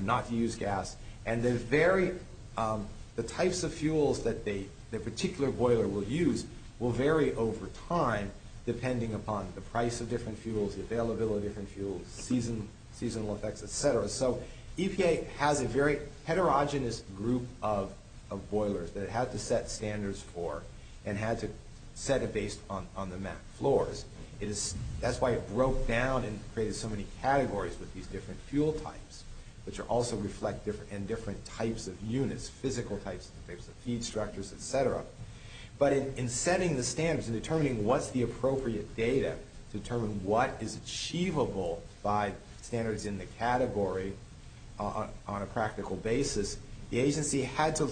not used gas. And the types of fuels that the particular boiler will use will vary over time, depending upon the price of different fuels, the availability of different fuels, seasonal effects, et cetera. EPA has a very heterogeneous group of boilers that it has to set standards for and has to set it based on the MAC floors. That's why it broke down and created so many categories with these different fuel types, which also reflect different types of units, physical types, feed structures, et cetera. But in setting the standards and determining what's the appropriate data to determine what is achievable by standards in the category on a practical basis, the agency had to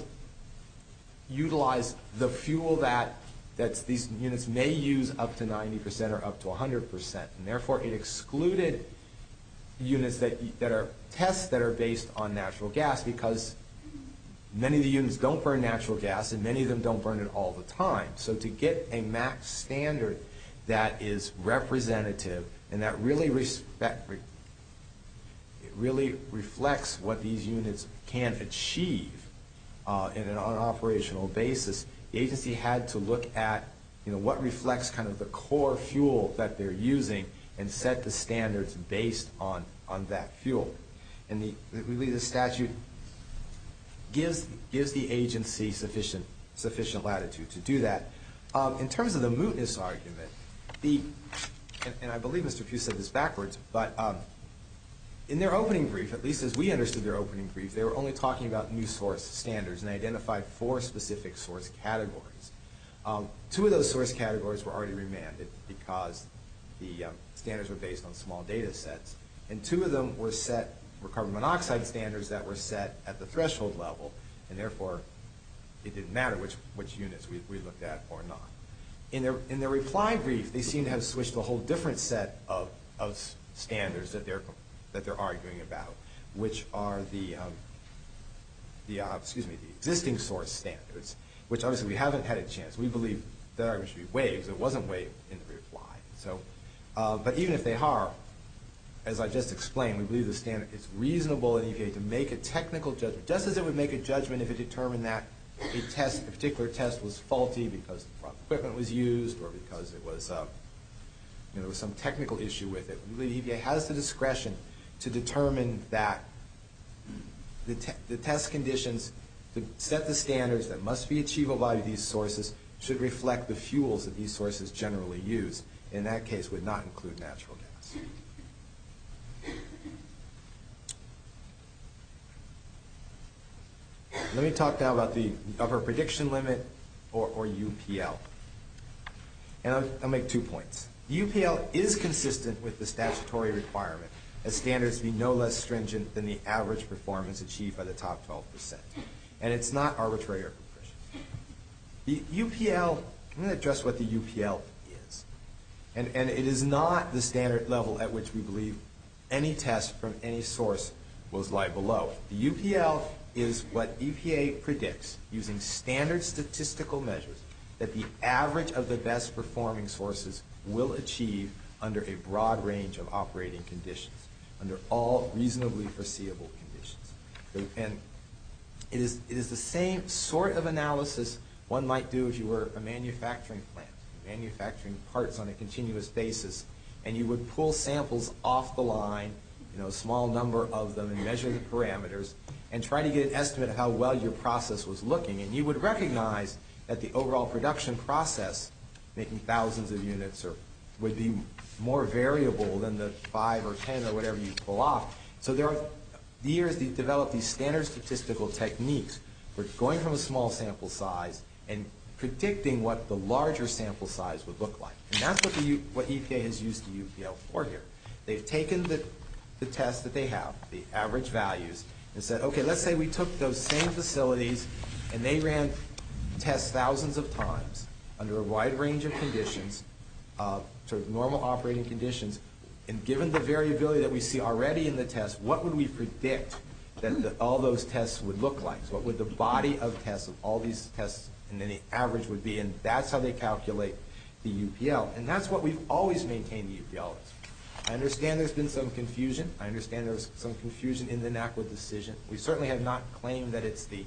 utilize the fuel that these units may use up to 90% or up to 100%. And therefore, it excluded units that are tests that are based on natural gas because many of the units don't burn natural gas and many of them don't burn it all the time. So to get a MAC standard that is representative and that really reflects what these units can achieve on an operational basis, the agency had to look at what reflects kind of the core fuel that they're using and set the standards based on that fuel. And really, the statute gives the agency sufficient latitude to do that. In terms of the mootness argument, and I believe Mr. Pugh said this backwards, but in their opening brief, or at least as we understood their opening brief, they were only talking about new source standards and they identified four specific source categories. Two of those source categories were already remanded because the standards were based on small data sets and two of them were set, were carbon monoxide standards that were set at the threshold level and therefore, it didn't matter which units we looked at or not. In their reply brief, they seem to have switched to a whole different set of standards that they're arguing about, which are the existing source standards, which obviously, we haven't had a chance. We believe that our industry waives. It wasn't waived in the reply. But even if they are, as I just explained, we believe it's reasonable and okay to make a technical judgment, just as it would make a judgment if it determined that a particular test was faulty because equipment was used or because there was some technical issue with it. We believe it has the discretion to determine that the test conditions that set the standards that must be achievable by these sources should reflect the fuels that these sources generally use. In that case, would not include natural gas. Let me talk now about the upper prediction limit or UPL. I'll make two points. UPL is consistent with the statutory requirements that standards be no less stringent than the average performance achieved by the top 12%. And it's not arbitrary. The UPL... I'm going to address what the UPL is. And it is not the standard level at which we believe any test from any source was lied below. The UPL is what EPA predicts using standard statistical measures that the average of the best performing sources will achieve under a broad range of operating conditions, under all reasonably foreseeable conditions. And it is the same sort of analysis one might do if you were a manufacturing plant, manufacturing parts on a continuous basis, and you would pull samples off the line, a small number of them, measuring parameters, and try to get an estimate of how well your process was looking. And you would recognize that the overall production process, making thousands of units, would be more variable than the 5 or 10 or whatever you pull off. So there are years you develop these standard statistical techniques that's going from a small sample size and predicting what the larger sample size would look like. And that's what EPA has used the UPL for here. They've taken the test that they have, the average values, and said, okay, let's say we took those same facilities and they ran tests thousands of times under a wide range of conditions, sort of normal operating conditions, and given the variability that we see already in the test, what would we predict that all those tests would look like? What would the body of tests of all these tests and any average would be? And that's how they calculate the UPL. And that's what we've always maintained the UPL. I understand there's been some confusion. I understand there's some confusion in the NACLA decision. We certainly have not claimed that it's the,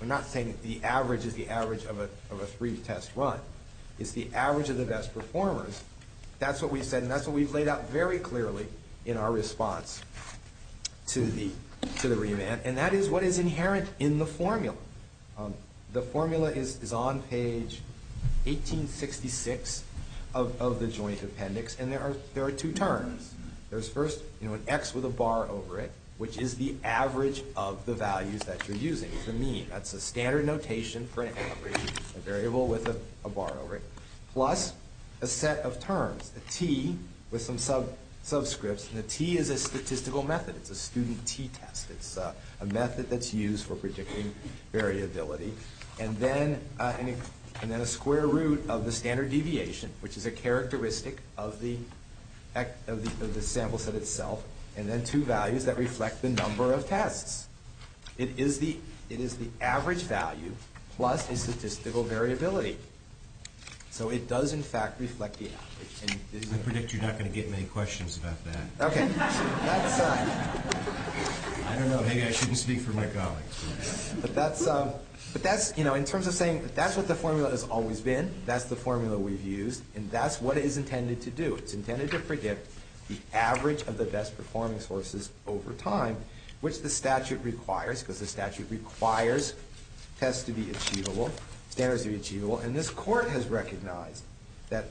we're not saying that the average is the average of a freeze test run. It's the average of the best performers. That's what we've said, and that's what we've laid out very clearly in our response to the remand. And that is what is inherent in the formula. The formula is on page 1866 of the Joint Appendix, and there are two terms. There's first an X with a bar over it, which is the average of the values that you're using. It's a mean. That's the standard notation for an X, a variable with a bar over it, plus a set of terms, a T with some subscripts, and a T is a statistical method. It's a student T test. It's a method that's used for predicting variability, and then a square root of the standard deviation, which is a characteristic of the sample set itself, and then two values that reflect the number of tests. It is the average value plus the statistical variability. So it does, in fact, reflect the average. I predict you're not going to get any questions about that. Okay. That's fine. I don't know. Maybe I shouldn't speak for my colleagues. But that's, you know, in terms of saying that's what the formula has always been. That's the formula we've used, and that's what it is intended to do. It's intended to predict the average of the best-performing sources over time, which the statute requires, because the statute requires tests to be achievable, standards to be achievable, and this court has recognized that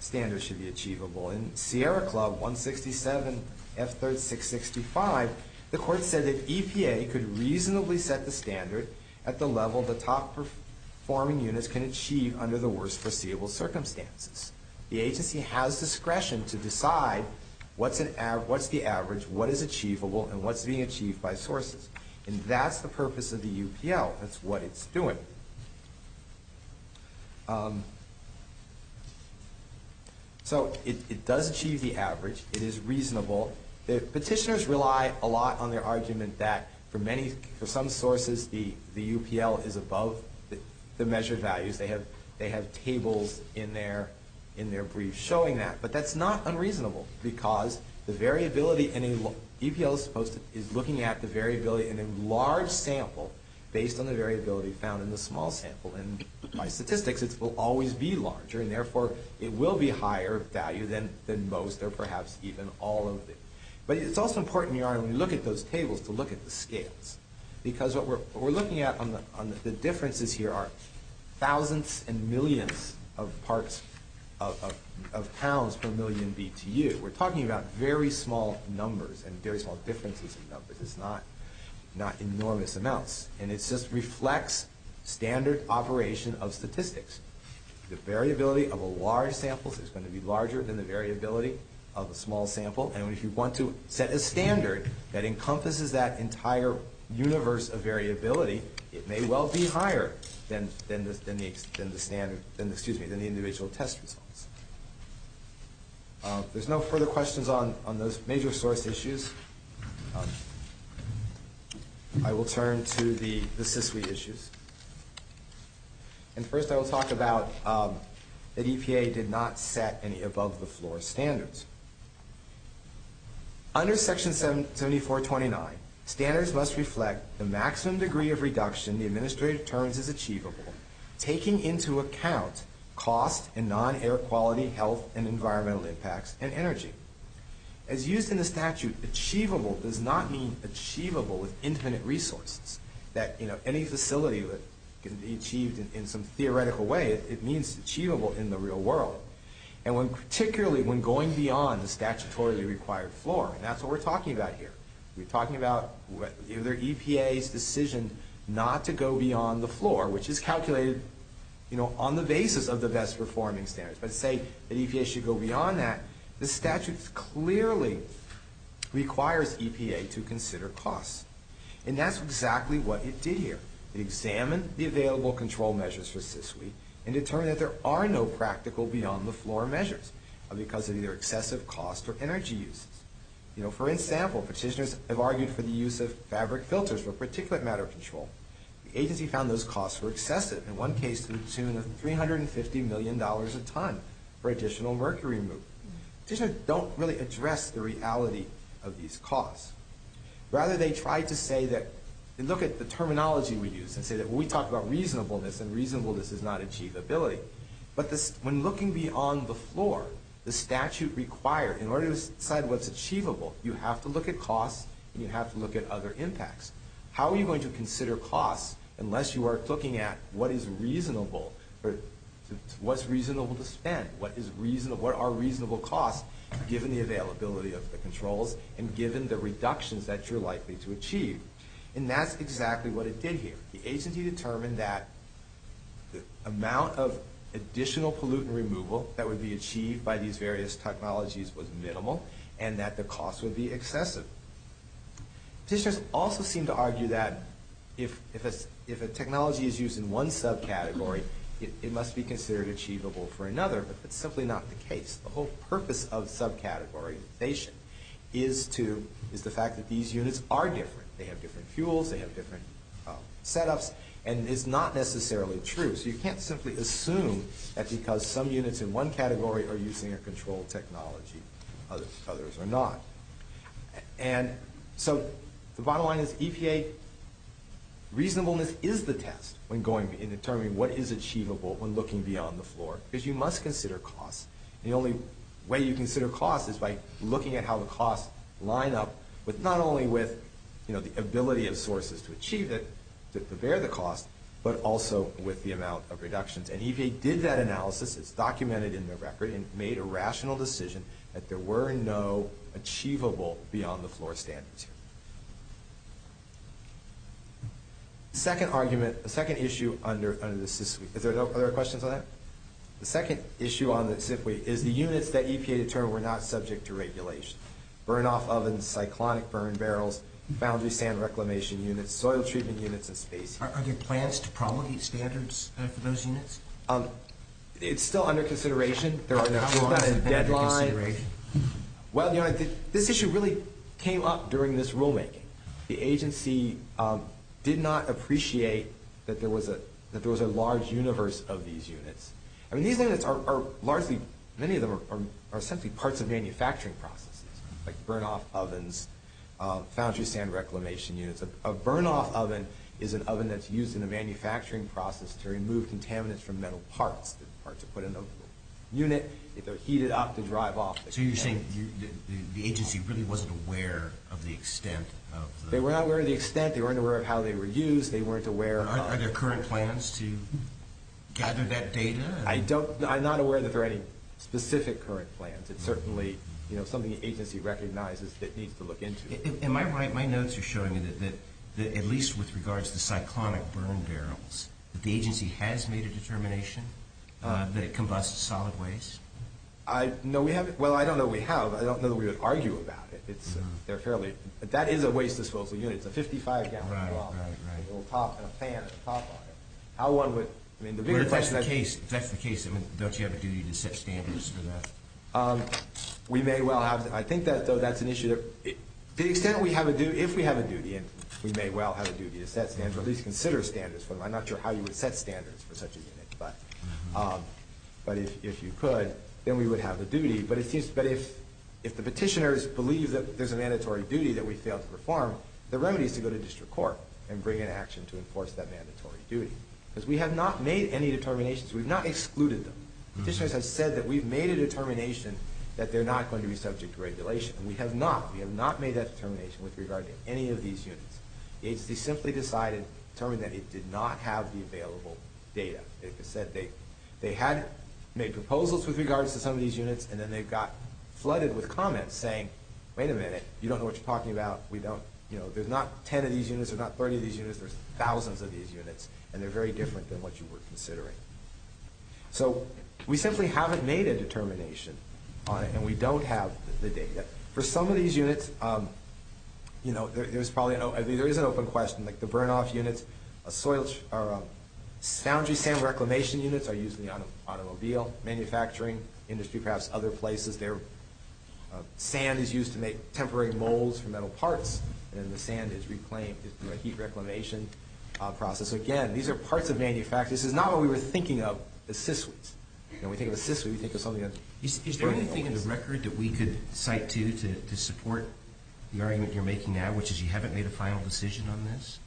standards should be achievable. In Sierra Club 167F3665, the court said that EPA could reasonably set the standard at the level the top-performing units can achieve under the worst foreseeable circumstances. The agency has discretion to decide what's the average, what is achievable, and what's being achieved by sources. And that's the purpose of the UPL. That's what it's doing. So it does achieve the average. It is reasonable. Petitioners rely a lot on their argument that for some sources the UPL is above the measured values. They have tables in their briefs showing that. But that's not unreasonable, because the variability, and UPL is looking at the variability in a large sample based on the variability found in the small sample, and by statistics it will always be larger, and therefore it will be higher value than most or perhaps even all of it. But it's also important when you look at those tables to look at the scales, because what we're looking at on the differences here are thousands and millions of parts of pounds per million BTU. We're talking about very small numbers and very small differences in numbers, not enormous amounts. And it just reflects standard operation of statistics. The variability of a large sample is going to be larger than the variability of a small sample, and if you want to set a standard that encompasses that entire universe of variability, it may well be higher than the individual test results. If there's no further questions on those major source issues, I will turn to the SISLI issues. And first I will talk about that EPA did not set any above-the-floor standards. Under Section 7429, standards must reflect the maximum degree of reduction the administrative terms is achievable, taking into account costs and non-air quality, health and environmental impacts, and energy. As used in the statute, achievable does not mean achievable with infinite resources. Any facility that can be achieved in some theoretical way, it means achievable in the real world. And particularly when going beyond the statutorily required floor. That's what we're talking about here. We're talking about either EPA's decision not to go beyond the floor, which is calculated, you know, on the basis of the best performing standards. But say the EPA should go beyond that, the statute clearly requires EPA to consider costs. And that's exactly what it did here. It examined the available control measures for SISLI and determined that there are no practical beyond-the-floor measures because of either excessive costs or energy use. You know, for example, petitioners have argued for the use of fabric filters for particulate matter control. The agency found those costs were excessive. In one case, to the tune of $350 million a ton for additional mercury removal. Petitioners don't really address the reality of these costs. Rather, they try to say that, and look at the terminology we use, and say that we talk about reasonableness, and reasonableness does not achieve ability. But when looking beyond the floor, the statute required, in order to decide what's achievable, you have to look at costs and you have to look at other impacts. How are you going to consider costs unless you are looking at what is reasonable, what's reasonable to spend, what are reasonable costs, given the availability of the controls and given the reductions that you're likely to achieve. And that's exactly what it did here. The agency determined that the amount of additional pollutant removal that would be achieved by these various technologies was minimal and that the costs would be excessive. Petitioners also seem to argue that if a technology is used in one subcategory, it must be considered achievable for another, but that's simply not the case. The whole purpose of subcategorization is the fact that these units are different. They have different fuels, they have different setups, and it's not necessarily true. So you can't simply assume that because some units in one category are using a controlled technology, others are not. And so the bottom line is EPA, reasonableness is the test in determining what is achievable when looking beyond the floor because you must consider costs. The only way you consider costs is by looking at how the costs line up, but not only with the ability of sources to achieve it, to prepare the costs, but also with the amount of reductions. And EPA did that analysis, it's documented in the record, and made a rational decision that there were no achievable beyond-the-floor standards. The second argument, the second issue under the SIFWG... Are there no other questions on that? The second issue on the SIFWG is the units that EPA determined were not subject to regulation. Burn-off ovens, cyclonic burn barrels, boundary sand reclamation units, soil treatment units in space. Are there plans to promulgate standards for those units? It's still under consideration. Is that a deadline? Well, this issue really came up during this rulemaking. The agency did not appreciate that there was a large universe of these units. These units are largely... Many of them are essentially parts of manufacturing processes, like burn-off ovens, boundary sand reclamation units. A burn-off oven is an oven that's used in the manufacturing process to remove contaminants from metal parts. It's a part to put in those units. It's heated up to drive off the contaminants. So you're saying the agency really wasn't aware of the extent of... They were not aware of the extent. They weren't aware of how they were used. Are there current plans to gather that data? I'm not aware that there are any specific current plans. It's certainly something the agency recognizes that needs to look into. Am I right? My notes are showing that, at least with regards to cyclonic burn barrels, that the agency has made a determination that it combusts solid waste? No, we haven't. Well, I don't know that we have. I don't know that we would argue about it. They're fairly... That is a waste of smoke for units. A 55-gallon bomb, it'll pop in a pan. How one would... If that's the case, don't you have a duty to set standards for that? We may well have... I think that's an issue. To the extent we have a duty... If we have a duty, and we may well have a duty to set standards, at least consider standards. I'm not sure how you would set standards for such a unit. But if you could, then we would have a duty. But if the petitioners believe that there's a mandatory duty that we failed to perform, the remedy is to go to district court and bring in action to enforce that mandatory duty. Because we have not made any determinations. We've not excluded them. Petitioners have said that we've made a determination that they're not going to be subject to regulation. And we have not. We have not made that determination with regard to any of these units. The agency simply decided, determined that it did not have the available data. It said they had made proposals with regards to some of these units, and then they got flooded with comments saying, wait a minute, you don't know what you're talking about. We don't... There's not 10 of these units, there's not 30 of these units, there's thousands of these units, and they're very different than what you were considering. So, we simply haven't made a determination on it, and we don't have the data. For some of these units, you know, there's probably... I mean, there is an open question, like the burn-off units, a soil... Foundry sand reclamation units are used in the automobile manufacturing industry, perhaps other places. They're... Sand is used to make temporary molds for metal parts, and the sand is reclaimed through a heat reclamation process. Again, these are parts of manufacturing. This is not what we were thinking of as SISWI. When we think of SISWI, we think of something else. Is there anything in the record that we could cite to, to support the argument you're making now, which is you haven't made a final decision on this?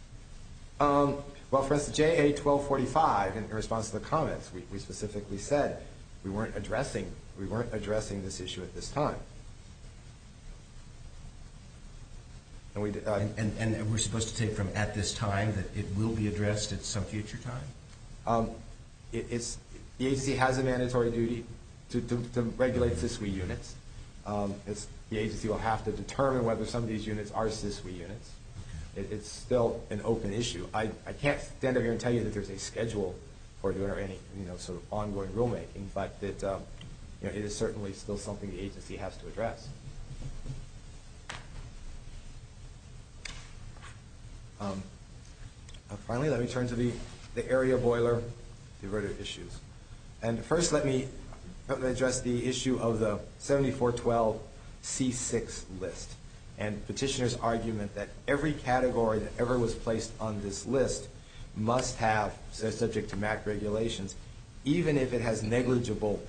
Well, for instance, JA-1245, in response to the comments, we specifically said we weren't addressing... We weren't addressing this issue at this time. And we... And we're supposed to take from at this time that it will be addressed at some future time? It's... The agency has a mandatory duty to regulate SISWI units. The agency will have to determine whether some of these units are SISWI units. It's still an open issue. I can't stand up here and tell you that there's a schedule or there are any sort of ongoing rulemaking, but it is certainly still something the agency has to address. Finally, let me turn to the area boiler diverted issues. And first, let me address the issue of the 7412C6 list and petitioner's argument that every category that ever was placed on this list must have, subject to MAC regulations, even if it has negligible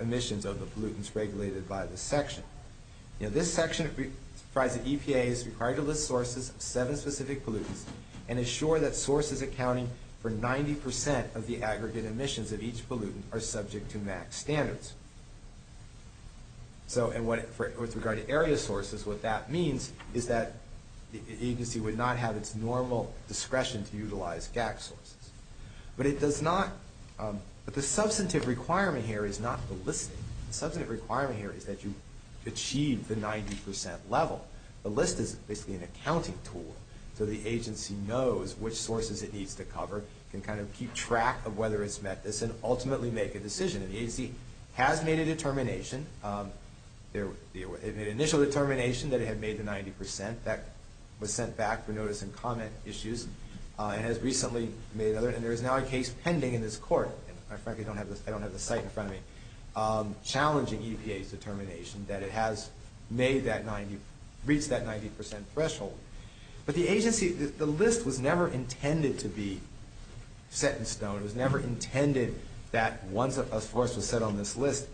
emissions of the pollutants regulated by the section. Now, this section of the EPA is required to list sources of seven specific pollutants and assure that sources accounting for 90% of the aggregate emissions of each pollutant are subject to MAC standards. And with regard to area sources, what that means is that the agency would not have its normal discretion to utilize GAC sources. But it does not... But the substantive requirement here is not the listing. The substantive requirement here is that you achieve the 90% level. The list is basically an accounting tool so the agency knows which sources it needs to cover, can kind of keep track of whether it's met this, and ultimately make a decision. And the agency has made a determination. The initial determination that it had made the 90%, that was sent back for notice and comment issues, and has recently made another, and there is now a case pending in this court. I frankly don't have the site in front of me, challenging EPA's determination that it has reached that 90% threshold. But the agency... The list was never intended to be set in stone. It was never intended that once a source was set on this list,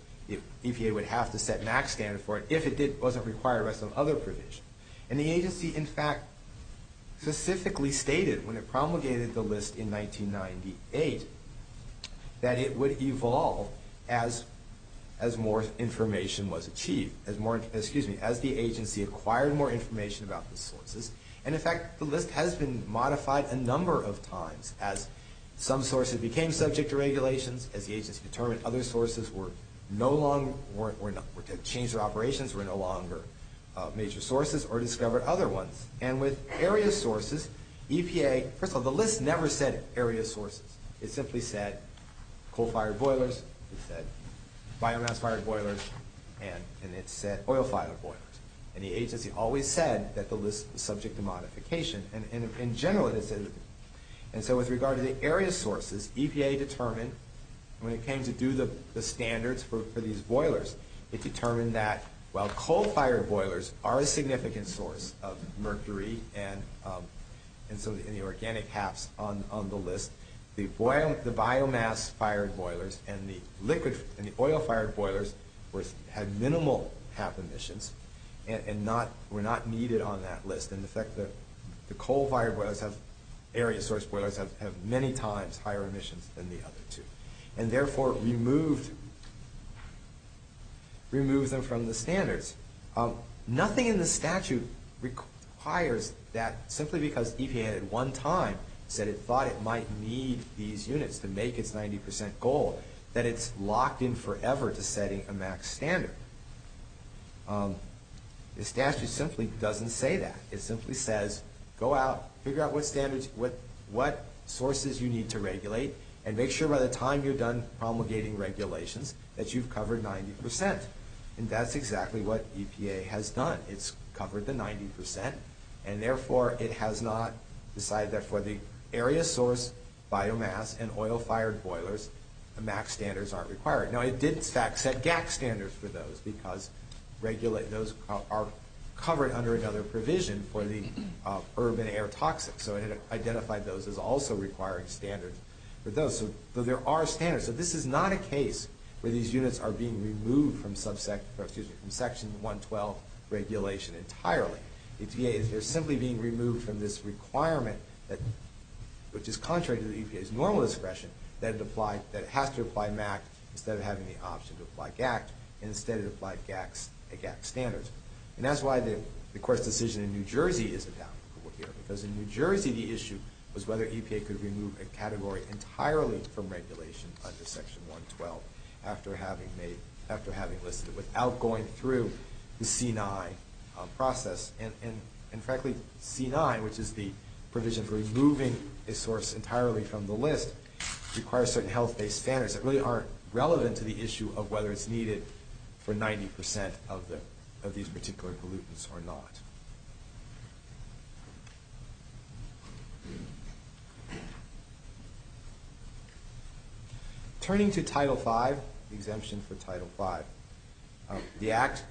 EPA would have to set MAC standards for it if it wasn't required by some other provisions. And the agency, in fact, specifically stated when it promulgated the list in 1998 that it would evolve as more information was achieved. As more, excuse me, as the agency acquired more information about the sources. And in fact, the list has been modified a number of times as some sources became subject to regulations, as the agency determined other sources were no longer, were to change their operations, were no longer major sources, or discovered other ones. And with area sources, EPA... First of all, the list never said area sources. It simply said coal-fired boilers, it said biomass-fired boilers, and it said oil-fired boilers. And the agency always said that the list was subject to modification. And in general, it said... And so with regard to the area sources, EPA determined, when it came to do the standards for these boilers, it determined that while coal-fired boilers are a significant source of mercury and so in the organic caps on the list, the biomass-fired boilers and the oil-fired boilers had minimal half emissions and were not needed on that list. And in fact, the coal-fired boilers, area source boilers, have many times higher emissions than the other two. And therefore, it removed them from the standards. Nothing in the statute requires that simply because EPA at one time said it thought it might need these units to make its 90% goal, that it's locked in forever to setting a max standard. The statute simply doesn't say that. It simply says, go out, figure out what sources you need to regulate, and make sure by the time you're done promulgating regulations that you've covered 90%. And that's exactly what EPA has done. It's covered the 90% and therefore it has not decided that for the area source biomass and oil-fired boilers, the max standards aren't required. Now, it did set GAC standards for those because those are covered under another provision for the urban air toxics. So it identified those as also required standards for those. So there are standards. But this is not a case where these units are being removed from Section 112 regulation entirely. EPA is simply being removed from this requirement which is contrary to EPA's normal expression that it has to apply max instead of having the option to apply GAC instead of applying a GAC standard. And that's why the court's decision in New Jersey is adopted. Because in New Jersey, the issue was whether EPA could remove a category entirely from regulation under Section 112 after having listed it without going through the C9 process. And frankly, C9, which is the provision for removing a source entirely from the list, requires certain health-based standards that really aren't relevant to the issue of whether it's needed for 90% of these particular pollutants or not. Turning to Title V, the exemption for Title V. The Act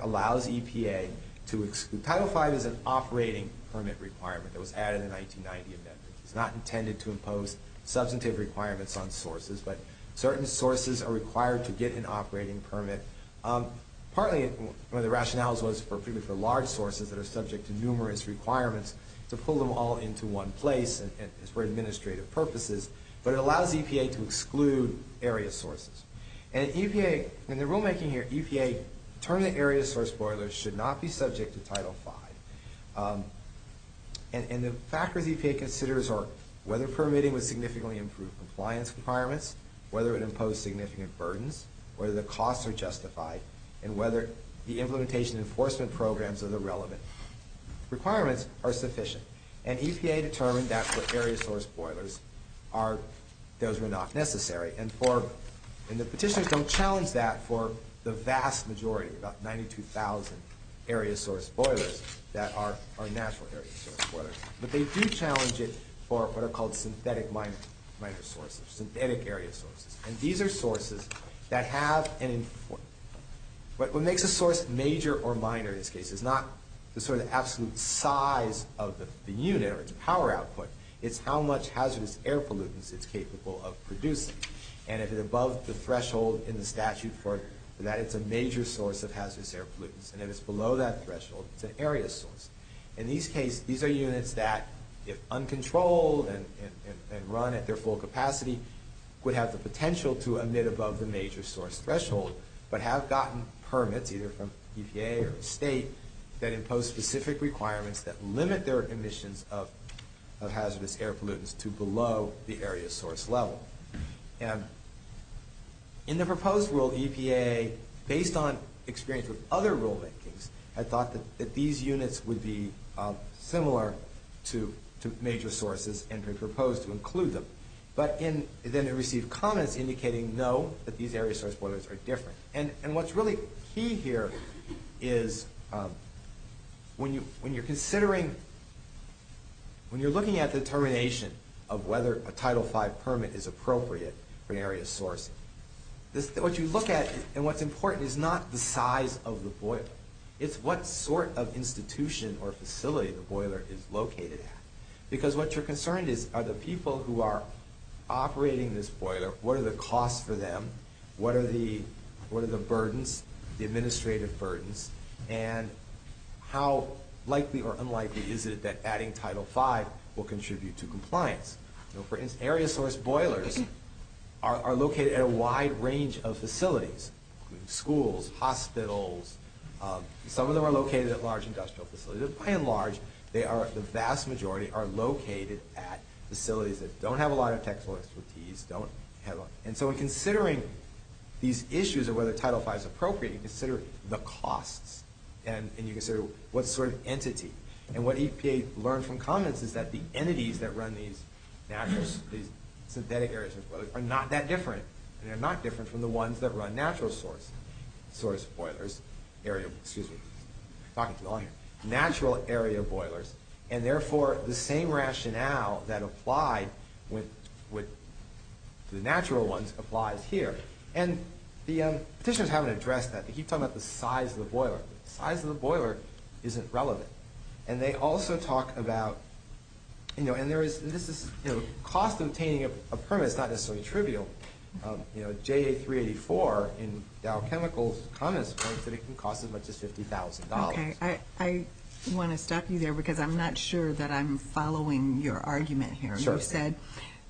allows EPA to exclude... Title V is an operating permit requirement that was added in the 1990 amendment. It's not intended to impose substantive requirements on sources, but certain sources are required to get an operating permit. Partly, one of the rationales was for large sources that are subject to numerous requirements to pull them all into one place and it's for administrative purposes, but it allows EPA to exclude area sources. And EPA, in the rulemaking here, EPA determined area source spoilers should not be subject to Title V. And the factors EPA considers are whether permitting would significantly improve compliance requirements, whether it would impose significant burdens, whether the costs are justified, and whether the implementation enforcement programs are the relevant requirements are sufficient. And EPA determined that for area source spoilers, those were not necessary. And the petitioners don't challenge that for the vast majority, about 92,000 area source spoilers that are natural area source spoilers. But they do challenge it for what are called synthetic micro-sources, synthetic area sources. And these are sources that have an... What makes a source major or minor, in this case, is not the sort of absolute size of the unit or the power output, it's how much hazardous air pollutants it's capable of producing. And if it's above the threshold in the statute for it, that is a major source of hazardous air pollutants. And if it's below that threshold, it's an area source. In these cases, these are units that, if uncontrolled and run at their full capacity, would have the potential to emit above the major source threshold, but have gotten permits, either from EPA or the state, that impose specific requirements that limit their emissions of hazardous air pollutants to below the area source level. And in the proposed rule, EPA, based on experience with other rulemaking, had thought that these units would be similar to major sources and had proposed to include them. But then it received comments indicating, well, we know that these area source boilers are different. And what's really key here is, when you're considering, when you're looking at determination of whether a Title V permit is appropriate for an area source, what you look at and what's important is not the size of the boiler. It's what sort of institution or facility the boiler is located in. Because what you're concerned is, are the people who are operating this boiler, what are the costs for them? What are the burdens, the administrative burdens? And how likely or unlikely is it that adding Title V will contribute to compliance? For instance, area source boilers are located at a wide range of facilities, including schools, hospitals. Some of them are located at large industrial facilities. By and large, they are, the vast majority, are located at facilities that don't have a lot of tech support expertise, don't have a lot. And so in considering these issues of whether Title V is appropriate, you consider the cost, and you consider what sort of entity. And what EPA learned from comments is that the entities that run these natural, these synthetic area source boilers are not that different, and they're not different from the ones that run natural source boilers, area, excuse me, talking to the audience, natural area boilers, and therefore the same rationale that applied with the natural ones applies here. And the petitioners haven't addressed that. They keep talking about the size of the boiler. The size of the boiler isn't relevant. And they also talk about, you know, and there is, and this is, you know, cost of obtaining a permit is not necessarily trivial. You know, J384 in Dow Chemicals promised that it can cost as much as $50,000. Okay, I want to stop you there because I'm not sure that I'm following your argument here. You said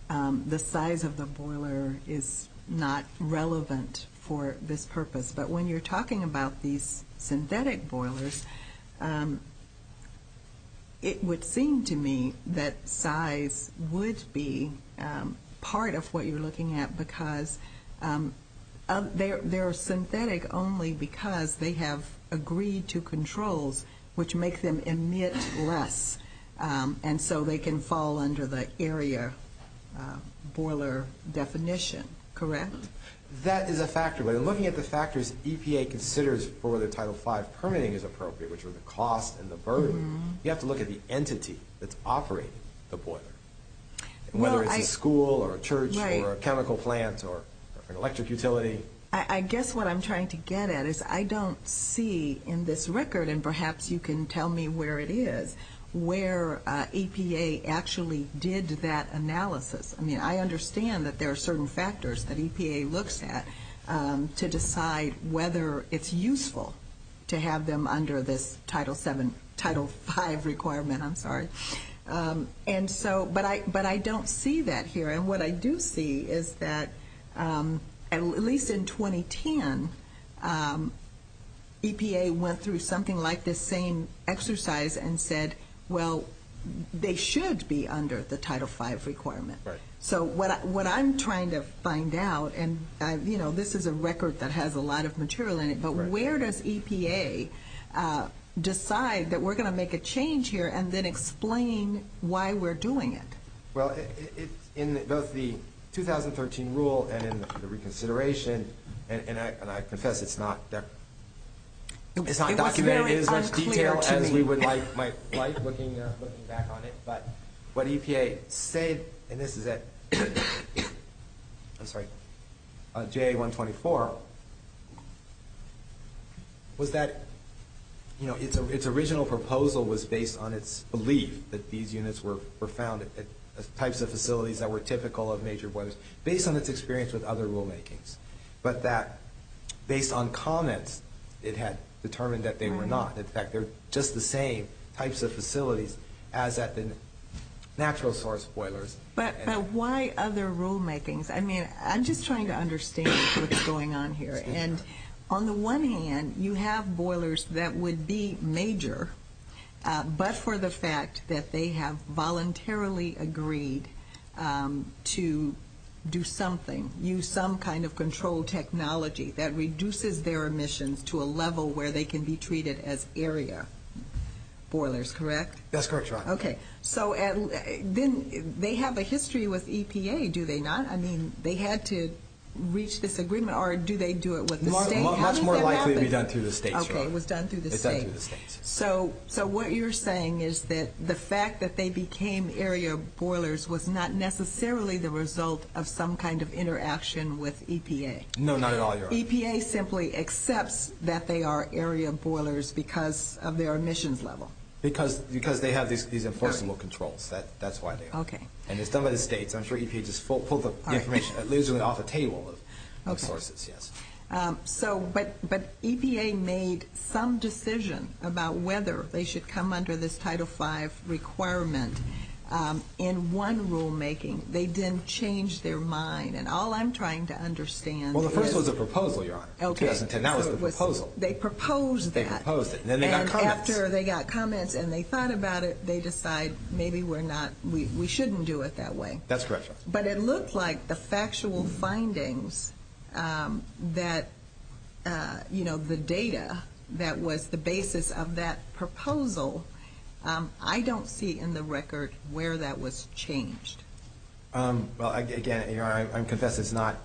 the size of the boiler is not relevant for this purpose. But when you're talking about these synthetic boilers, it would seem to me that size would be part of what you're looking at because they're synthetic only because they have agreed to controls which makes them emit less. And so they can fall under the area boiler definition. Correct? That is a factor, but looking at the factors EPA considers for the Title V permitting is appropriate, which are the cost and the burden, you have to look at the entity that's offering the boiler, whether it's a school or a church or a chemical plant or an electric utility. I guess what I'm trying to get at is I don't see in this record, and perhaps you can tell me where it is, where EPA actually did that analysis. I mean, I understand that there are certain factors that EPA looks at to decide whether it's useful to have them under this Title V requirement. But I don't see that here. And what I do see is that at least in 2010, EPA went through something like this same exercise and said, well, they should be under the Title V requirement. So what I'm trying to find out, and this is a record that has a lot of material in it, but where does EPA decide that we're going to make a change here and then explain why we're doing it? Well, in both the 2013 rule and the reconsideration, and I confess it's not documented in as much detail as you might like looking back on it, but what EPA said, and this is at JA-124, was that its original proposal was based on its belief that these units were founded, that the types of facilities that were typical of nature was based on its experience with other rulemaking, but that based on comments, it had determined that they were not. In fact, they're just the same types of facilities as at the natural source boilers. But why other rulemakings? I mean, I'm just trying to understand what's going on here. And on the one hand, you have boilers that would be major, but for the fact that they have voluntarily agreed to do something, use some kind of controlled technology that reduces their emissions to a level where they can be treated as area boilers, correct? That's correct, John. Okay. So then they have a history with EPA, do they not? I mean, they had to reach this agreement, or do they do it with the state? It's more likely it was done through the state. Okay, it was done through the state. So what you're saying is that the fact that they became area boilers was not necessarily the result of some kind of interaction with EPA. No, not at all, Your Honor. So EPA simply accepts that they are area boilers because of their emissions level? Because they have these enforceable controls. That's why they are. Okay. And it's done by the states. I'm sure EPA just pulled the information and leaves it off the table. Okay. But EPA made some decision about whether they should come under this Title V requirement in one rulemaking. They didn't change their mind. And all I'm trying to understand is... Well, the first was a proposal, Your Honor. Okay. And that was a proposal. They proposed that. They proposed it. And then they got comments. And after they got comments and they thought about it, they decide maybe we're not, we shouldn't do it that way. That's correct, Your Honor. But it looks like the factual findings that, you know, the data that was the basis of that proposal, I don't see in the record where that was changed. Well, again, Your Honor, I confess it's not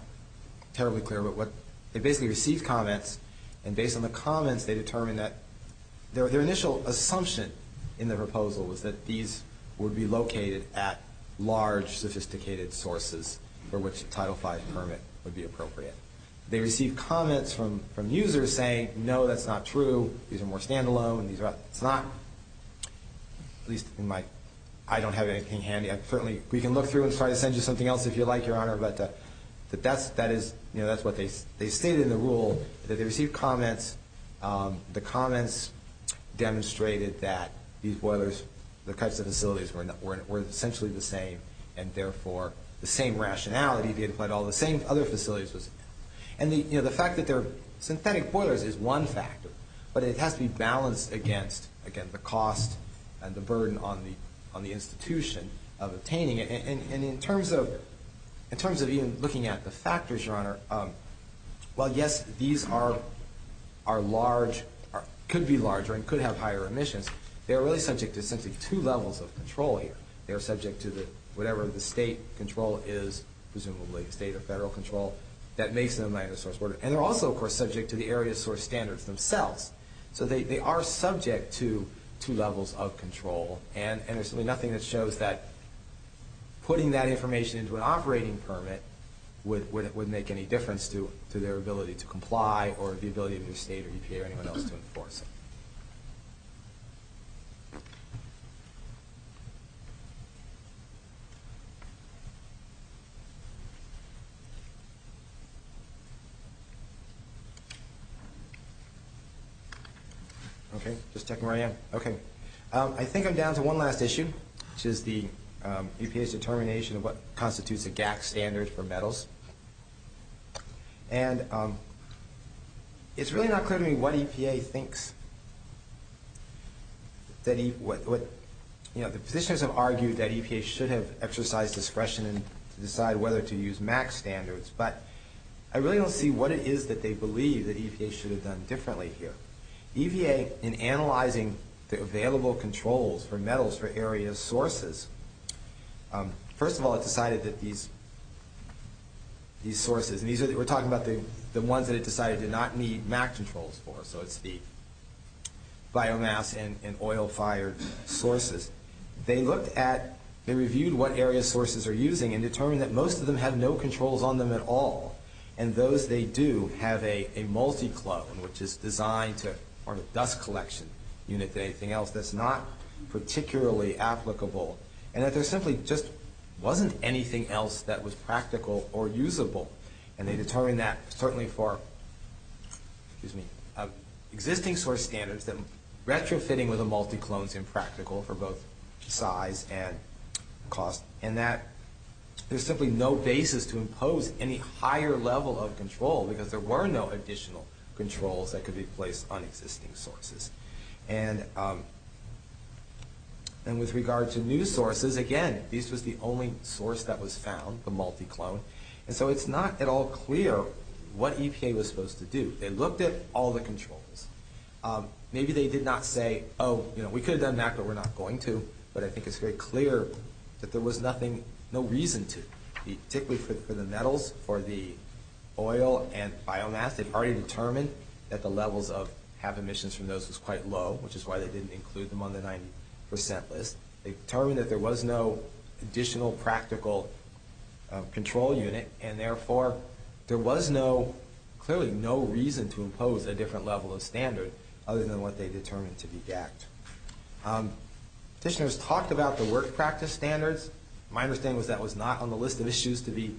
terribly clear. But they basically received comments. And based on the comments, they determined that their initial assumption in the proposal was that these would be located at large, sophisticated sources for which a Title V permit would be appropriate. They received comments from users saying, no, that's not true. These are more standalone. It's not, at least in my, I don't have anything handy. Certainly, we can look through and try to send you something else if you'd like, Your Honor. But that is, you know, that's what they stated in the rule, that they received comments. The comments demonstrated that these boilers, the types of facilities were essentially the same and, therefore, the same rationality. They didn't find all the same other facilities. And, you know, the fact that they're synthetic boilers is one factor. But it has to be balanced against the cost and the burden on the institution of obtaining it. And in terms of even looking at the factors, Your Honor, while, yes, these are large, could be larger, and could have higher emissions, they are really subject to essentially two levels of control here. They are subject to whatever the state control is, presumably state or federal control, that makes them a minor source boiler. And they're also, of course, subject to the area source standards themselves. So they are subject to two levels of control. And there's nothing that shows that putting that information into an operating permit would make any difference to their ability to comply or the ability of the state or EPA or anyone else to enforce it. Okay, just checking where I am. Okay. I think I'm down to one last issue, which is the EPA's determination of what constitutes the GAP standard for metals. And it's really not clear to me what EPA thinks. You know, the petitioners have argued that EPA should have exercised discretion in deciding whether to use MAC standards. But I really don't see what it is that they believe that EPA should have done differently here. EPA, in analyzing the available controls for metals for area sources, first of all, it decided that these sources, and we're talking about the ones that it decided did not need MAC controls for, so it's the biomass and oil fire sources. They looked at and reviewed what area sources are using and determined that most of them have no controls on them at all. And those they do have a multi-club, which is designed to form a dust collection unit, anything else that's not particularly applicable. And that there simply just wasn't anything else that was practical or usable. And they determined that certainly for existing source standards, that retrofitting with a multi-club is impractical for both size and cost. And that there's simply no basis to impose any higher level of control because there were no additional controls that could be placed on existing sources. And with regard to new sources, again, this is the only source that was found for multi-club. And so it's not at all clear what EPA was supposed to do. They looked at all the controls. Maybe they did not say, oh, you know, we could have done that, but we're not going to. But I think it's very clear that there was nothing, no reason to. Particularly for the metals or the oil and biomass, they've already determined that the levels of, have emissions from those is quite low, which is why they didn't include them on the 90% list. They determined that there was no additional practical control unit. And therefore there was no, clearly no reason to impose a different level of standard other than what they determined to be that. All right. Petitioners talked about the work practice standards. My understanding was that was not on the list of issues to be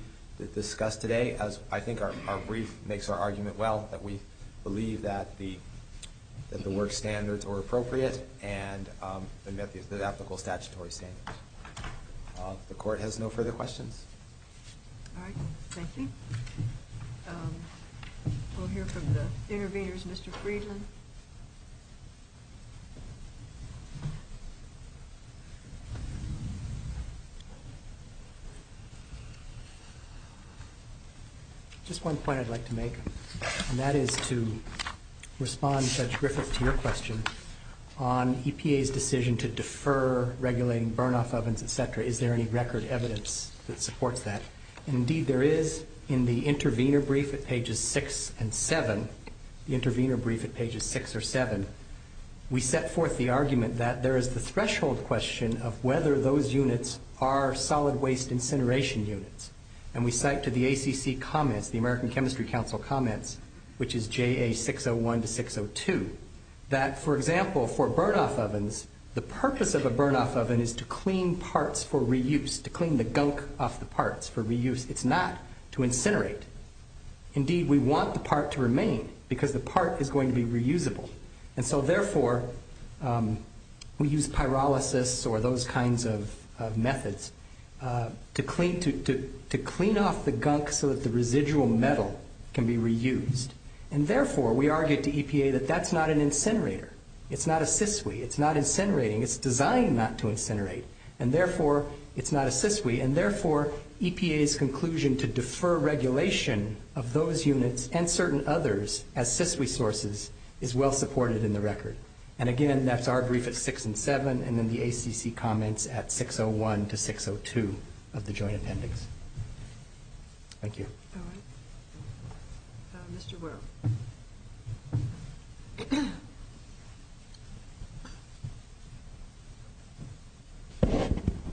discussed today. As I think our brief makes our argument well, that we believe that the work standards were appropriate and met the ethical statutory standards. The court has no further questions. All right. Thank you. We'll hear from the interveners. Thank you, Mr. Friedland. Just one point I'd like to make, and that is to respond, Judge Griffith, to your question. On EPA's decision to defer regulating burn-off ovens, et cetera, is there any record evidence that supports that? Indeed there is in the intervener brief at pages six and seven, the intervener brief at pages six or seven, we set forth the argument that there is the threshold question of whether those units are solid waste incineration units. And we cite to the ACC comments, the American Chemistry Council comments, which is JA601 to 602, that, for example, for burn-off ovens, the purpose of a burn-off oven is to clean parts for reuse, to clean the gunk off the parts for reuse. It's not to incinerate. Indeed, we want the part to remain because the part is going to be reusable. And so, therefore, we use pyrolysis or those kinds of methods to clean off the gunk so that the residual metal can be reused. And, therefore, we argue to EPA that that's not an incinerator. It's not a CISWE. It's not incinerating. It's designed not to incinerate. And, therefore, it's not a CISWE. And, therefore, EPA's conclusion to defer regulation of those units and certain others as CISWE sources is well supported in the record. And, again, that's our brief at 6 and 7, and then the ACC comments at 601 to 602 of the joint appendix. Thank you. Mr. Wuerl.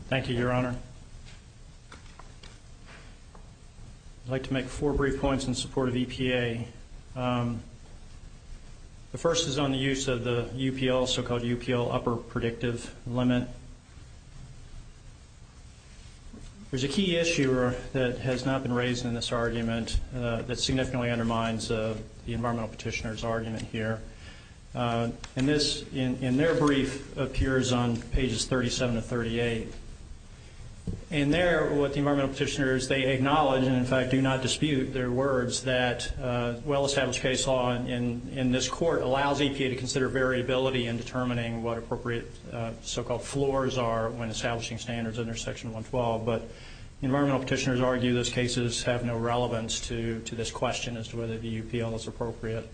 Thank you, Your Honor. I'd like to make four brief points in support of EPA. The first is on the use of the UPL, so-called UPL Upper Predictive Limit. There's a key issue that has not been raised in this argument that significantly undermines the environmental petitioner's argument here. And this, in their brief, appears on pages 37 to 38. And there, what the environmental petitioners, they acknowledge, and, in fact, do not dispute their words, that well-established case law in this court allows EPA to consider variability in determining what appropriate so-called floors are when establishing standards under Section 112. But the environmental petitioners argue those cases have no relevance to this question as to whether the UPL is appropriate.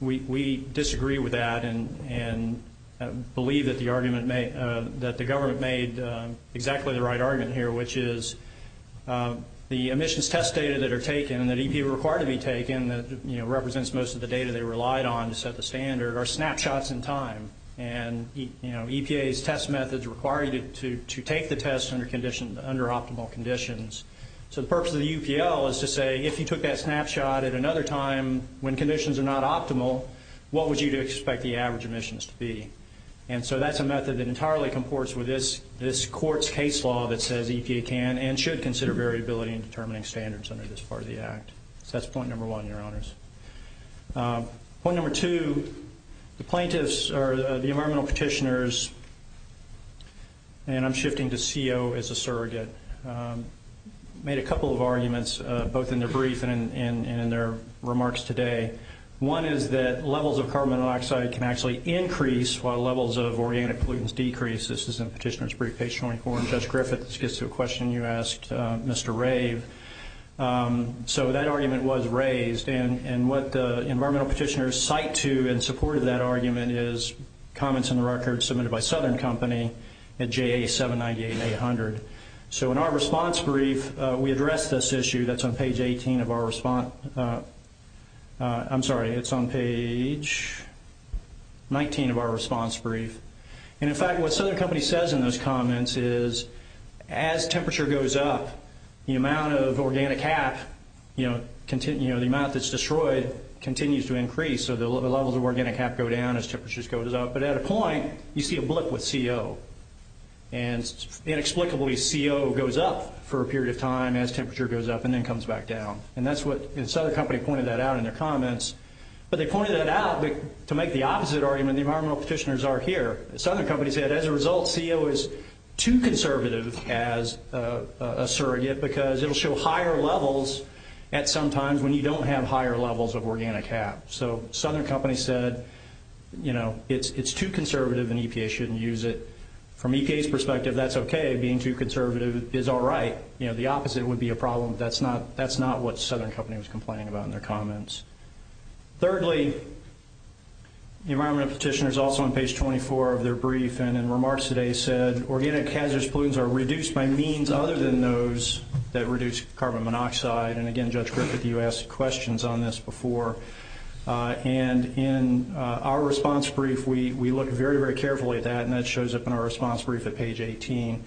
We disagree with that and believe that the government made exactly the right argument here, which is the emissions test data that are taken and that EPA were required to be taken, that, you know, represents most of the data they relied on to set the standard, are snapshots in time. And, you know, EPA's test methods require you to take the test under optimal conditions. So the purpose of the UPL is to say, if you took that snapshot at another time when conditions are not optimal, what would you expect the average emissions to be? And so that's a method that entirely comports with this court's case law that says EPA can and should consider variability in determining standards under this part of the Act. So that's point number one, Your Honors. Point number two, the plaintiffs or the environmental petitioners, and I'm shifting to CO as a surrogate, made a couple of arguments, both in their brief and in their remarks today. One is that levels of carbon monoxide can actually increase while levels of organic pollutants decrease. This is in Petitioner's Brief, page 24. And Judge Griffiths gets to a question you asked, Mr. Rabe. So that argument was raised, and what the environmental petitioners cite to in support of that argument is comments in the record submitted by Southern Company at JA 798-800. So in our response brief, we addressed this issue that's on page 18 of our response – I'm sorry, it's on page 19 of our response brief. And, in fact, what Southern Company says in those comments is, as temperature goes up, the amount of organic half, you know, the amount that's destroyed continues to increase. So the levels of organic half go down as temperature goes up. But at a point, you see a blip with CO. And inexplicably, CO goes up for a period of time as temperature goes up and then comes back down. And that's what Southern Company pointed that out in their comments. But they pointed that out to make the opposite argument the environmental petitioners are here. Southern Company said, as a result, CO is too conservative as a surrogate because it will show higher levels at some times when you don't have higher levels of organic half. So Southern Company said, you know, it's too conservative and EPA shouldn't use it. From EPA's perspective, that's okay. Being too conservative is all right. You know, the opposite would be a problem. That's not what Southern Company was complaining about in their comments. Thirdly, the environmental petitioners also on page 24 of their brief and in remarks today said, organic hazardous pollutants are reduced by means other than those that reduce carbon monoxide. And, again, Judge Griffith, you asked questions on this before. And in our response brief, we look very, very carefully at that, and that shows up in our response brief at page 18.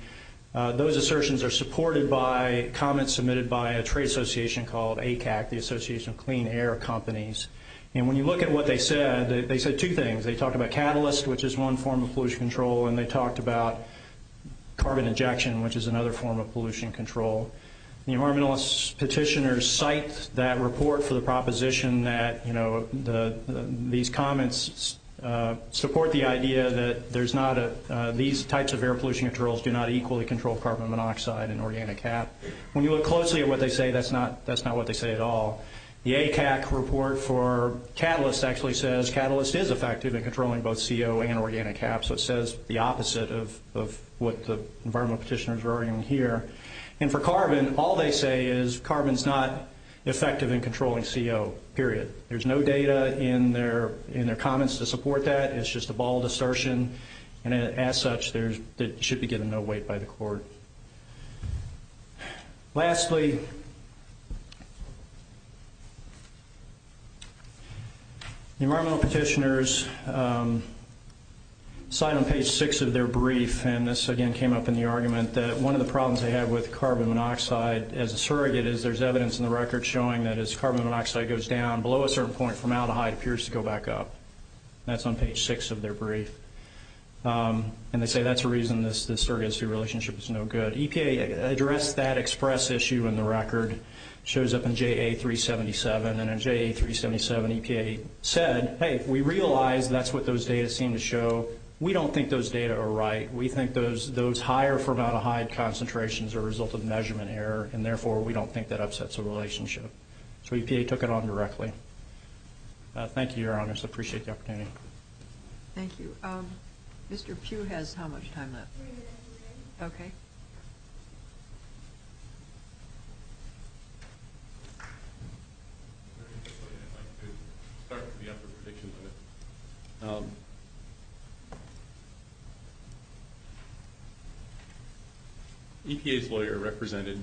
Those assertions are supported by comments submitted by a trade association called ACAC, the Association of Clean Air Companies. And when you look at what they said, they said two things. They talked about catalyst, which is one form of pollution control, and they talked about carbon injection, which is another form of pollution control. The environmentalist petitioners cite that report for the proposition that, you know, these comments support the idea that there's not a – these types of air pollution controls do not equally control carbon monoxide and organic half. When you look closely at what they say, that's not what they say at all. The ACAC report for catalyst actually says catalyst is effective in controlling both CO and organic half, so it says the opposite of what the environmentalist petitioners are arguing here. And for carbon, all they say is carbon is not effective in controlling CO, period. There's no data in their comments to support that. It's just a bald assertion, and as such, it should be given no weight by the court. Lastly, the environmentalist petitioners cite on page 6 of their brief, and this again came up in the argument, that one of the problems they had with carbon monoxide as a surrogate is there's evidence in the record showing that as carbon monoxide goes down, below a certain point, formaldehyde appears to go back up. That's on page 6 of their brief. And they say that's the reason this surrogacy relationship is no good. EPA addressed that express issue in the record. It shows up in JA-377, and in JA-377, EPA said, hey, we realize that's what those data seem to show. We don't think those data are right. We think those higher formaldehyde concentrations are a result of measurement error, and therefore we don't think that upsets the relationship. So EPA took it on directly. Thank you, Your Honors. I appreciate the opportunity. Thank you. Mr. Pugh has how much time left? Okay. EPA's lawyer represented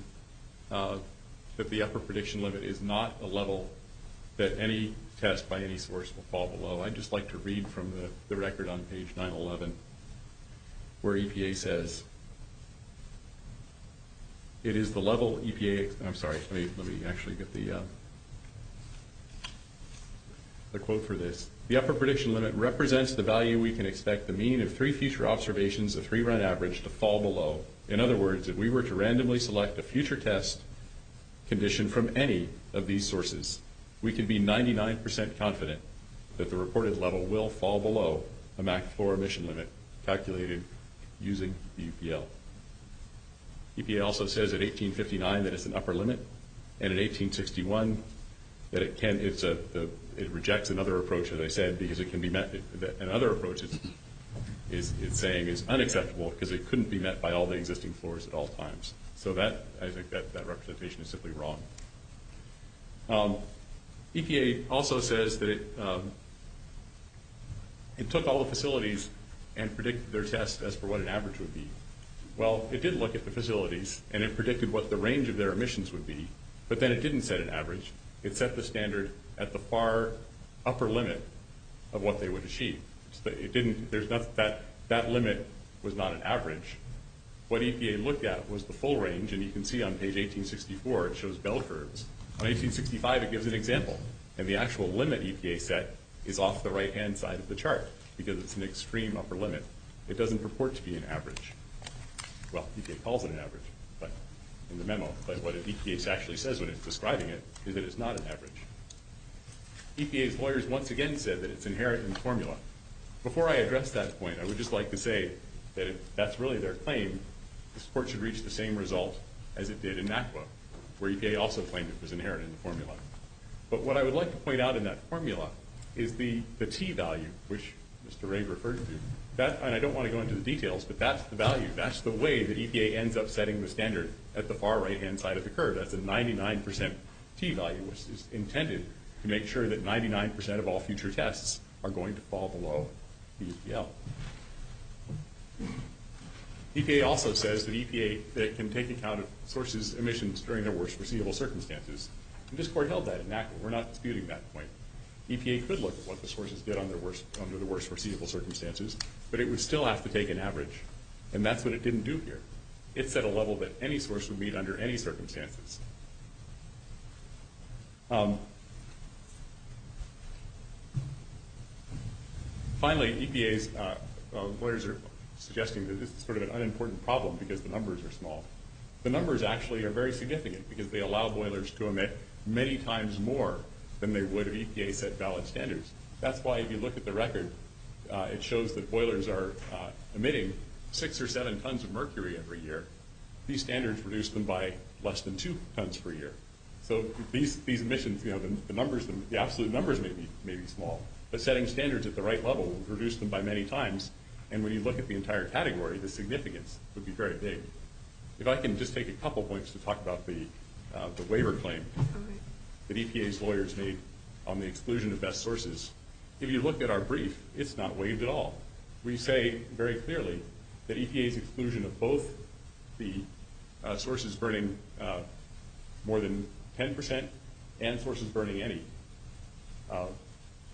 that the upper prediction limit is not a level that any test by any source will fall below. I'd just like to read from the record on page 911 where EPA says, it is the level EPA, I'm sorry, let me actually get the quote for this. The upper prediction limit represents the value we can expect the mean of three future observations of three run average to fall below. In other words, if we were to randomly select a future test condition from any of these sources, we could be 99% confident that the reported level will fall below the max floor emission limit calculated using EPA. EPA also says at 1859 that it's an upper limit, and at 1861 that it rejects another approach, as I said, because it can be met. Another approach it's saying is unaffectable because it couldn't be met by all the existing floors at all times. So that, I think that representation is simply wrong. EPA also says that it took all the facilities and predicted their test as for what an average would be. Well, it did look at the facilities and it predicted what the range of their emissions would be, but then it didn't set an average. It set the standard at the far upper limit of what they would achieve. It didn't, there's not, that limit was not an average. What EPA looked at was the full range, and you can see on page 1864 it shows bell curves. On 1865 it gives an example, and the actual limit EPA set is off the right-hand side of the chart because it's an extreme upper limit. It doesn't purport to be an average. Well, EPA calls it an average in the memo, but what EPA actually says when it's describing it is that it's not an average. EPA's lawyers once again said that it's inherent in the formula. Before I address that point, I would just like to say that that's really their claim. The sport should reach the same result as it did in NAFTA, where EPA also claims it's inherent in the formula. But what I would like to point out in that formula is the T value, which Mr. Rigg referred to, and I don't want to go into the details, but that's the value. That's the way that EPA ends up setting the standard at the far right-hand side of the curve. EPA also says that EPA can take account of sources' emissions during their worst foreseeable circumstances, and this court held that in NAFTA. We're not disputing that point. EPA could look at what the sources did under the worst foreseeable circumstances, but it would still have to take an average, and that's what it didn't do here. It set a level that any source would meet under any circumstances. Finally, EPA's lawyers are suggesting that this is sort of an unimportant problem because the numbers are small. The numbers actually are very significant because they allow boilers to emit many times more than they would if EPA set valid standards. That's why if you look at the record, it shows that boilers are emitting six or seven tons of mercury every year. These standards reduce them by less than 2%. So these emissions, the absolute numbers may be small, but setting standards at the right level would reduce them by many times, and when you look at the entire category, the significance would be very big. If I can just take a couple points to talk about the waiver claim that EPA's lawyers made on the exclusion of best sources. If you look at our brief, it's not waived at all. We say very clearly that EPA's exclusion of both the sources burning more than 10% and sources burning any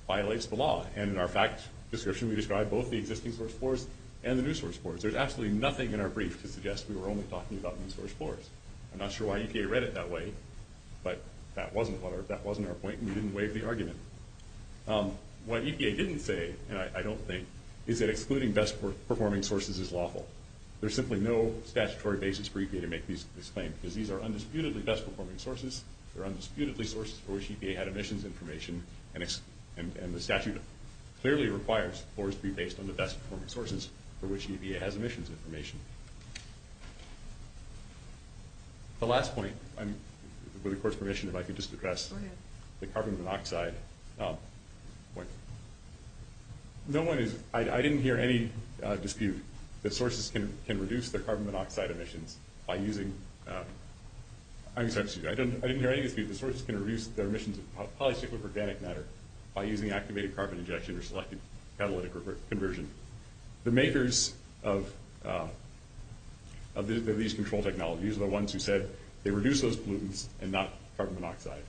violates the law, and in our facts description, we describe both the existing source floors and the new source floors. There's absolutely nothing in our brief that suggests we were only talking about new source floors. I'm not sure why EPA read it that way, but that wasn't our point, and we didn't waive the argument. What EPA didn't say, and I don't think, is that excluding best-performing sources is lawful. There's simply no statutory basis for EPA to make this claim, because these are undisputedly best-performing sources. They're undisputedly sources for which EPA had emissions information, and the statute clearly requires floors to be based on the best-performing sources for which EPA has emissions information. The last point, with the court's permission, if I could just address the carbon monoxide point. No one is – I didn't hear any dispute that sources can reduce their carbon monoxide emissions by using – I'm sorry, excuse me. I didn't hear any dispute that sources can reduce their emissions of polycyclic organic matter by using activated carbon injection or selective catalytic conversion. The makers of these control technologies are the ones who said they reduce those pollutants and not carbon monoxide.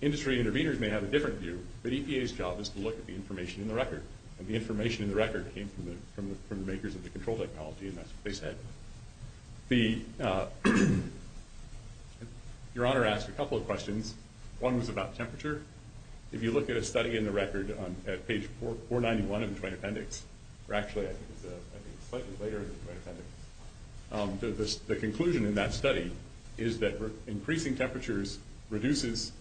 Industry intervenors may have a different view, but EPA's job is to look at the information in the record, and the information in the record came from the makers of the control technology, and that's what they said. Your Honor asked a couple of questions. One was about temperature. If you look at a study in the record at page 491 of the Joint Appendix – or actually, I think it's slightly later in the Joint Appendix – the conclusion in that study is that increasing temperatures reduces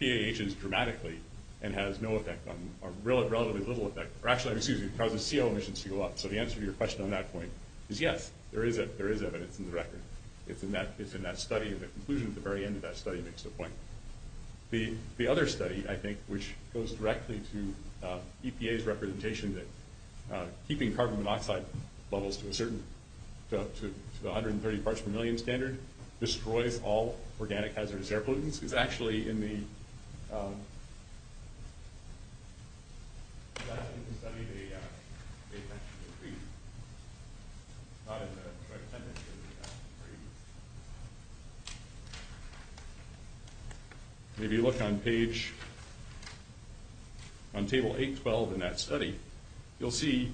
PAHs dramatically and has no effect on – or relatively little effect – or actually, excuse me, it causes CO emissions to go up, so the answer to your question on that point is yes, there is evidence in the record. It's in that study, and the conclusion at the very end of that study makes the point. The other study, I think, which goes directly to EPA's representation that keeping carbon monoxide levels to a certain – to the 130 parts per million standard destroys all organic hazardous air pollutants is actually in the – that's in the 70 to 80 hour temperature decrease. It's not in the 10 to 80 hour decrease. If you look on page – on table 812 in that study, you'll see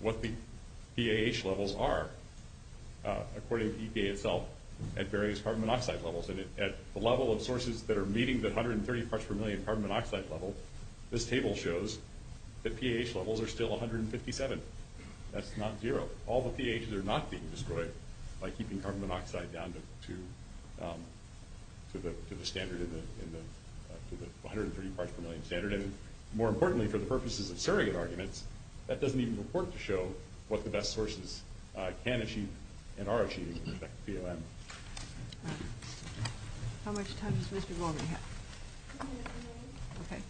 what the PAH levels are, according to EPA itself, at various carbon monoxide levels. And at the level of sources that are meeting the 130 parts per million carbon monoxide level, this table shows that PAH levels are still 157. That's not zero. All the PAHs are not being destroyed by keeping carbon monoxide down to the standard – to the 130 parts per million standard. And more importantly, for the purposes of surrogate arguments, that doesn't even report to show what the best sources can achieve and are achieving with respect to PLM. All right. How much time does Mr. Wolbein have? One minute, Mr. Wolbein. Okay.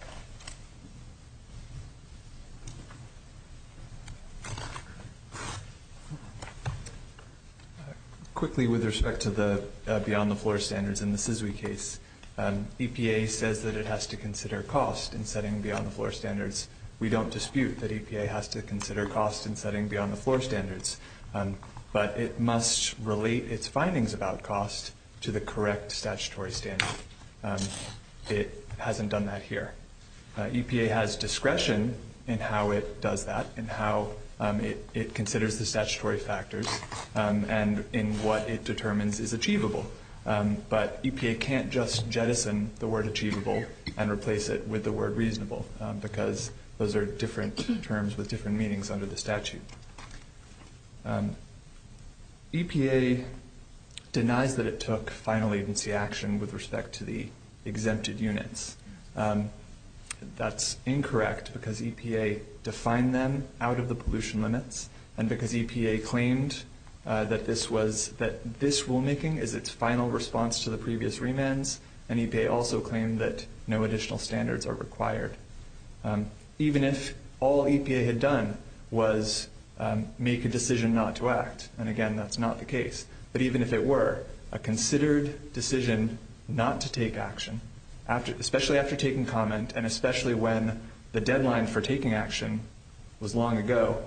Quickly, with respect to the beyond-the-floor standards in the SESWI case, EPA says that it has to consider cost in setting beyond-the-floor standards. We don't dispute that EPA has to consider cost in setting beyond-the-floor standards. But it must relate its findings about cost to the correct statutory standard. It hasn't done that here. EPA has discretion in how it does that, in how it considers the statutory factors, and in what it determines is achievable. But EPA can't just jettison the word achievable and replace it with the word reasonable, because those are different terms with different meanings under the statute. EPA denies that it took final agency action with respect to the exempted units. That's incorrect, because EPA defined them out of the pollution limits, and because EPA claimed that this rulemaking is its final response to the previous remands, and EPA also claimed that no additional standards are required. Even if all EPA had done was make a decision not to act, and, again, that's not the case, but even if it were a considered decision not to take action, especially after taking comment and especially when the deadline for taking action was long ago,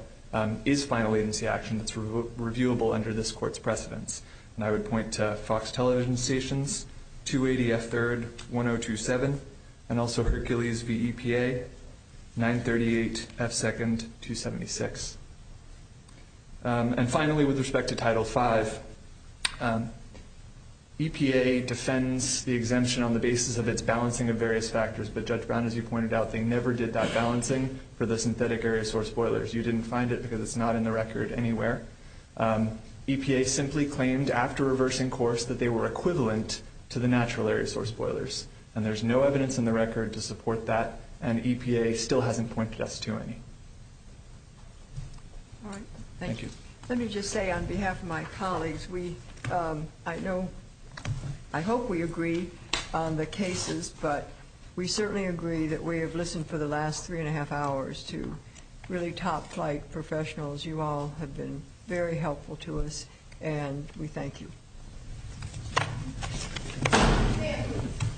is final agency action that's reviewable under this Court's precedence. And I would point to Fox Television Stations, 280 F. 3rd, 1027, and also Hercules v. EPA, 938 F. 2nd, 276. And finally, with respect to Title V, EPA defends the exemption on the basis of its balancing of various factors, but Judge Brown, as you pointed out, they never did that balancing for the synthetic area source spoilers. You didn't find it because it's not in the record anywhere. EPA simply claimed after reversing course that they were equivalent to the natural area source spoilers, and there's no evidence in the record to support that, and EPA still hasn't pointed us to any. Thank you. Let me just say on behalf of my colleagues, I hope we agree on the cases, but we certainly agree that we have listened for the last three-and-a-half hours to really top-flight professionals. You all have been very helpful to us, and we thank you.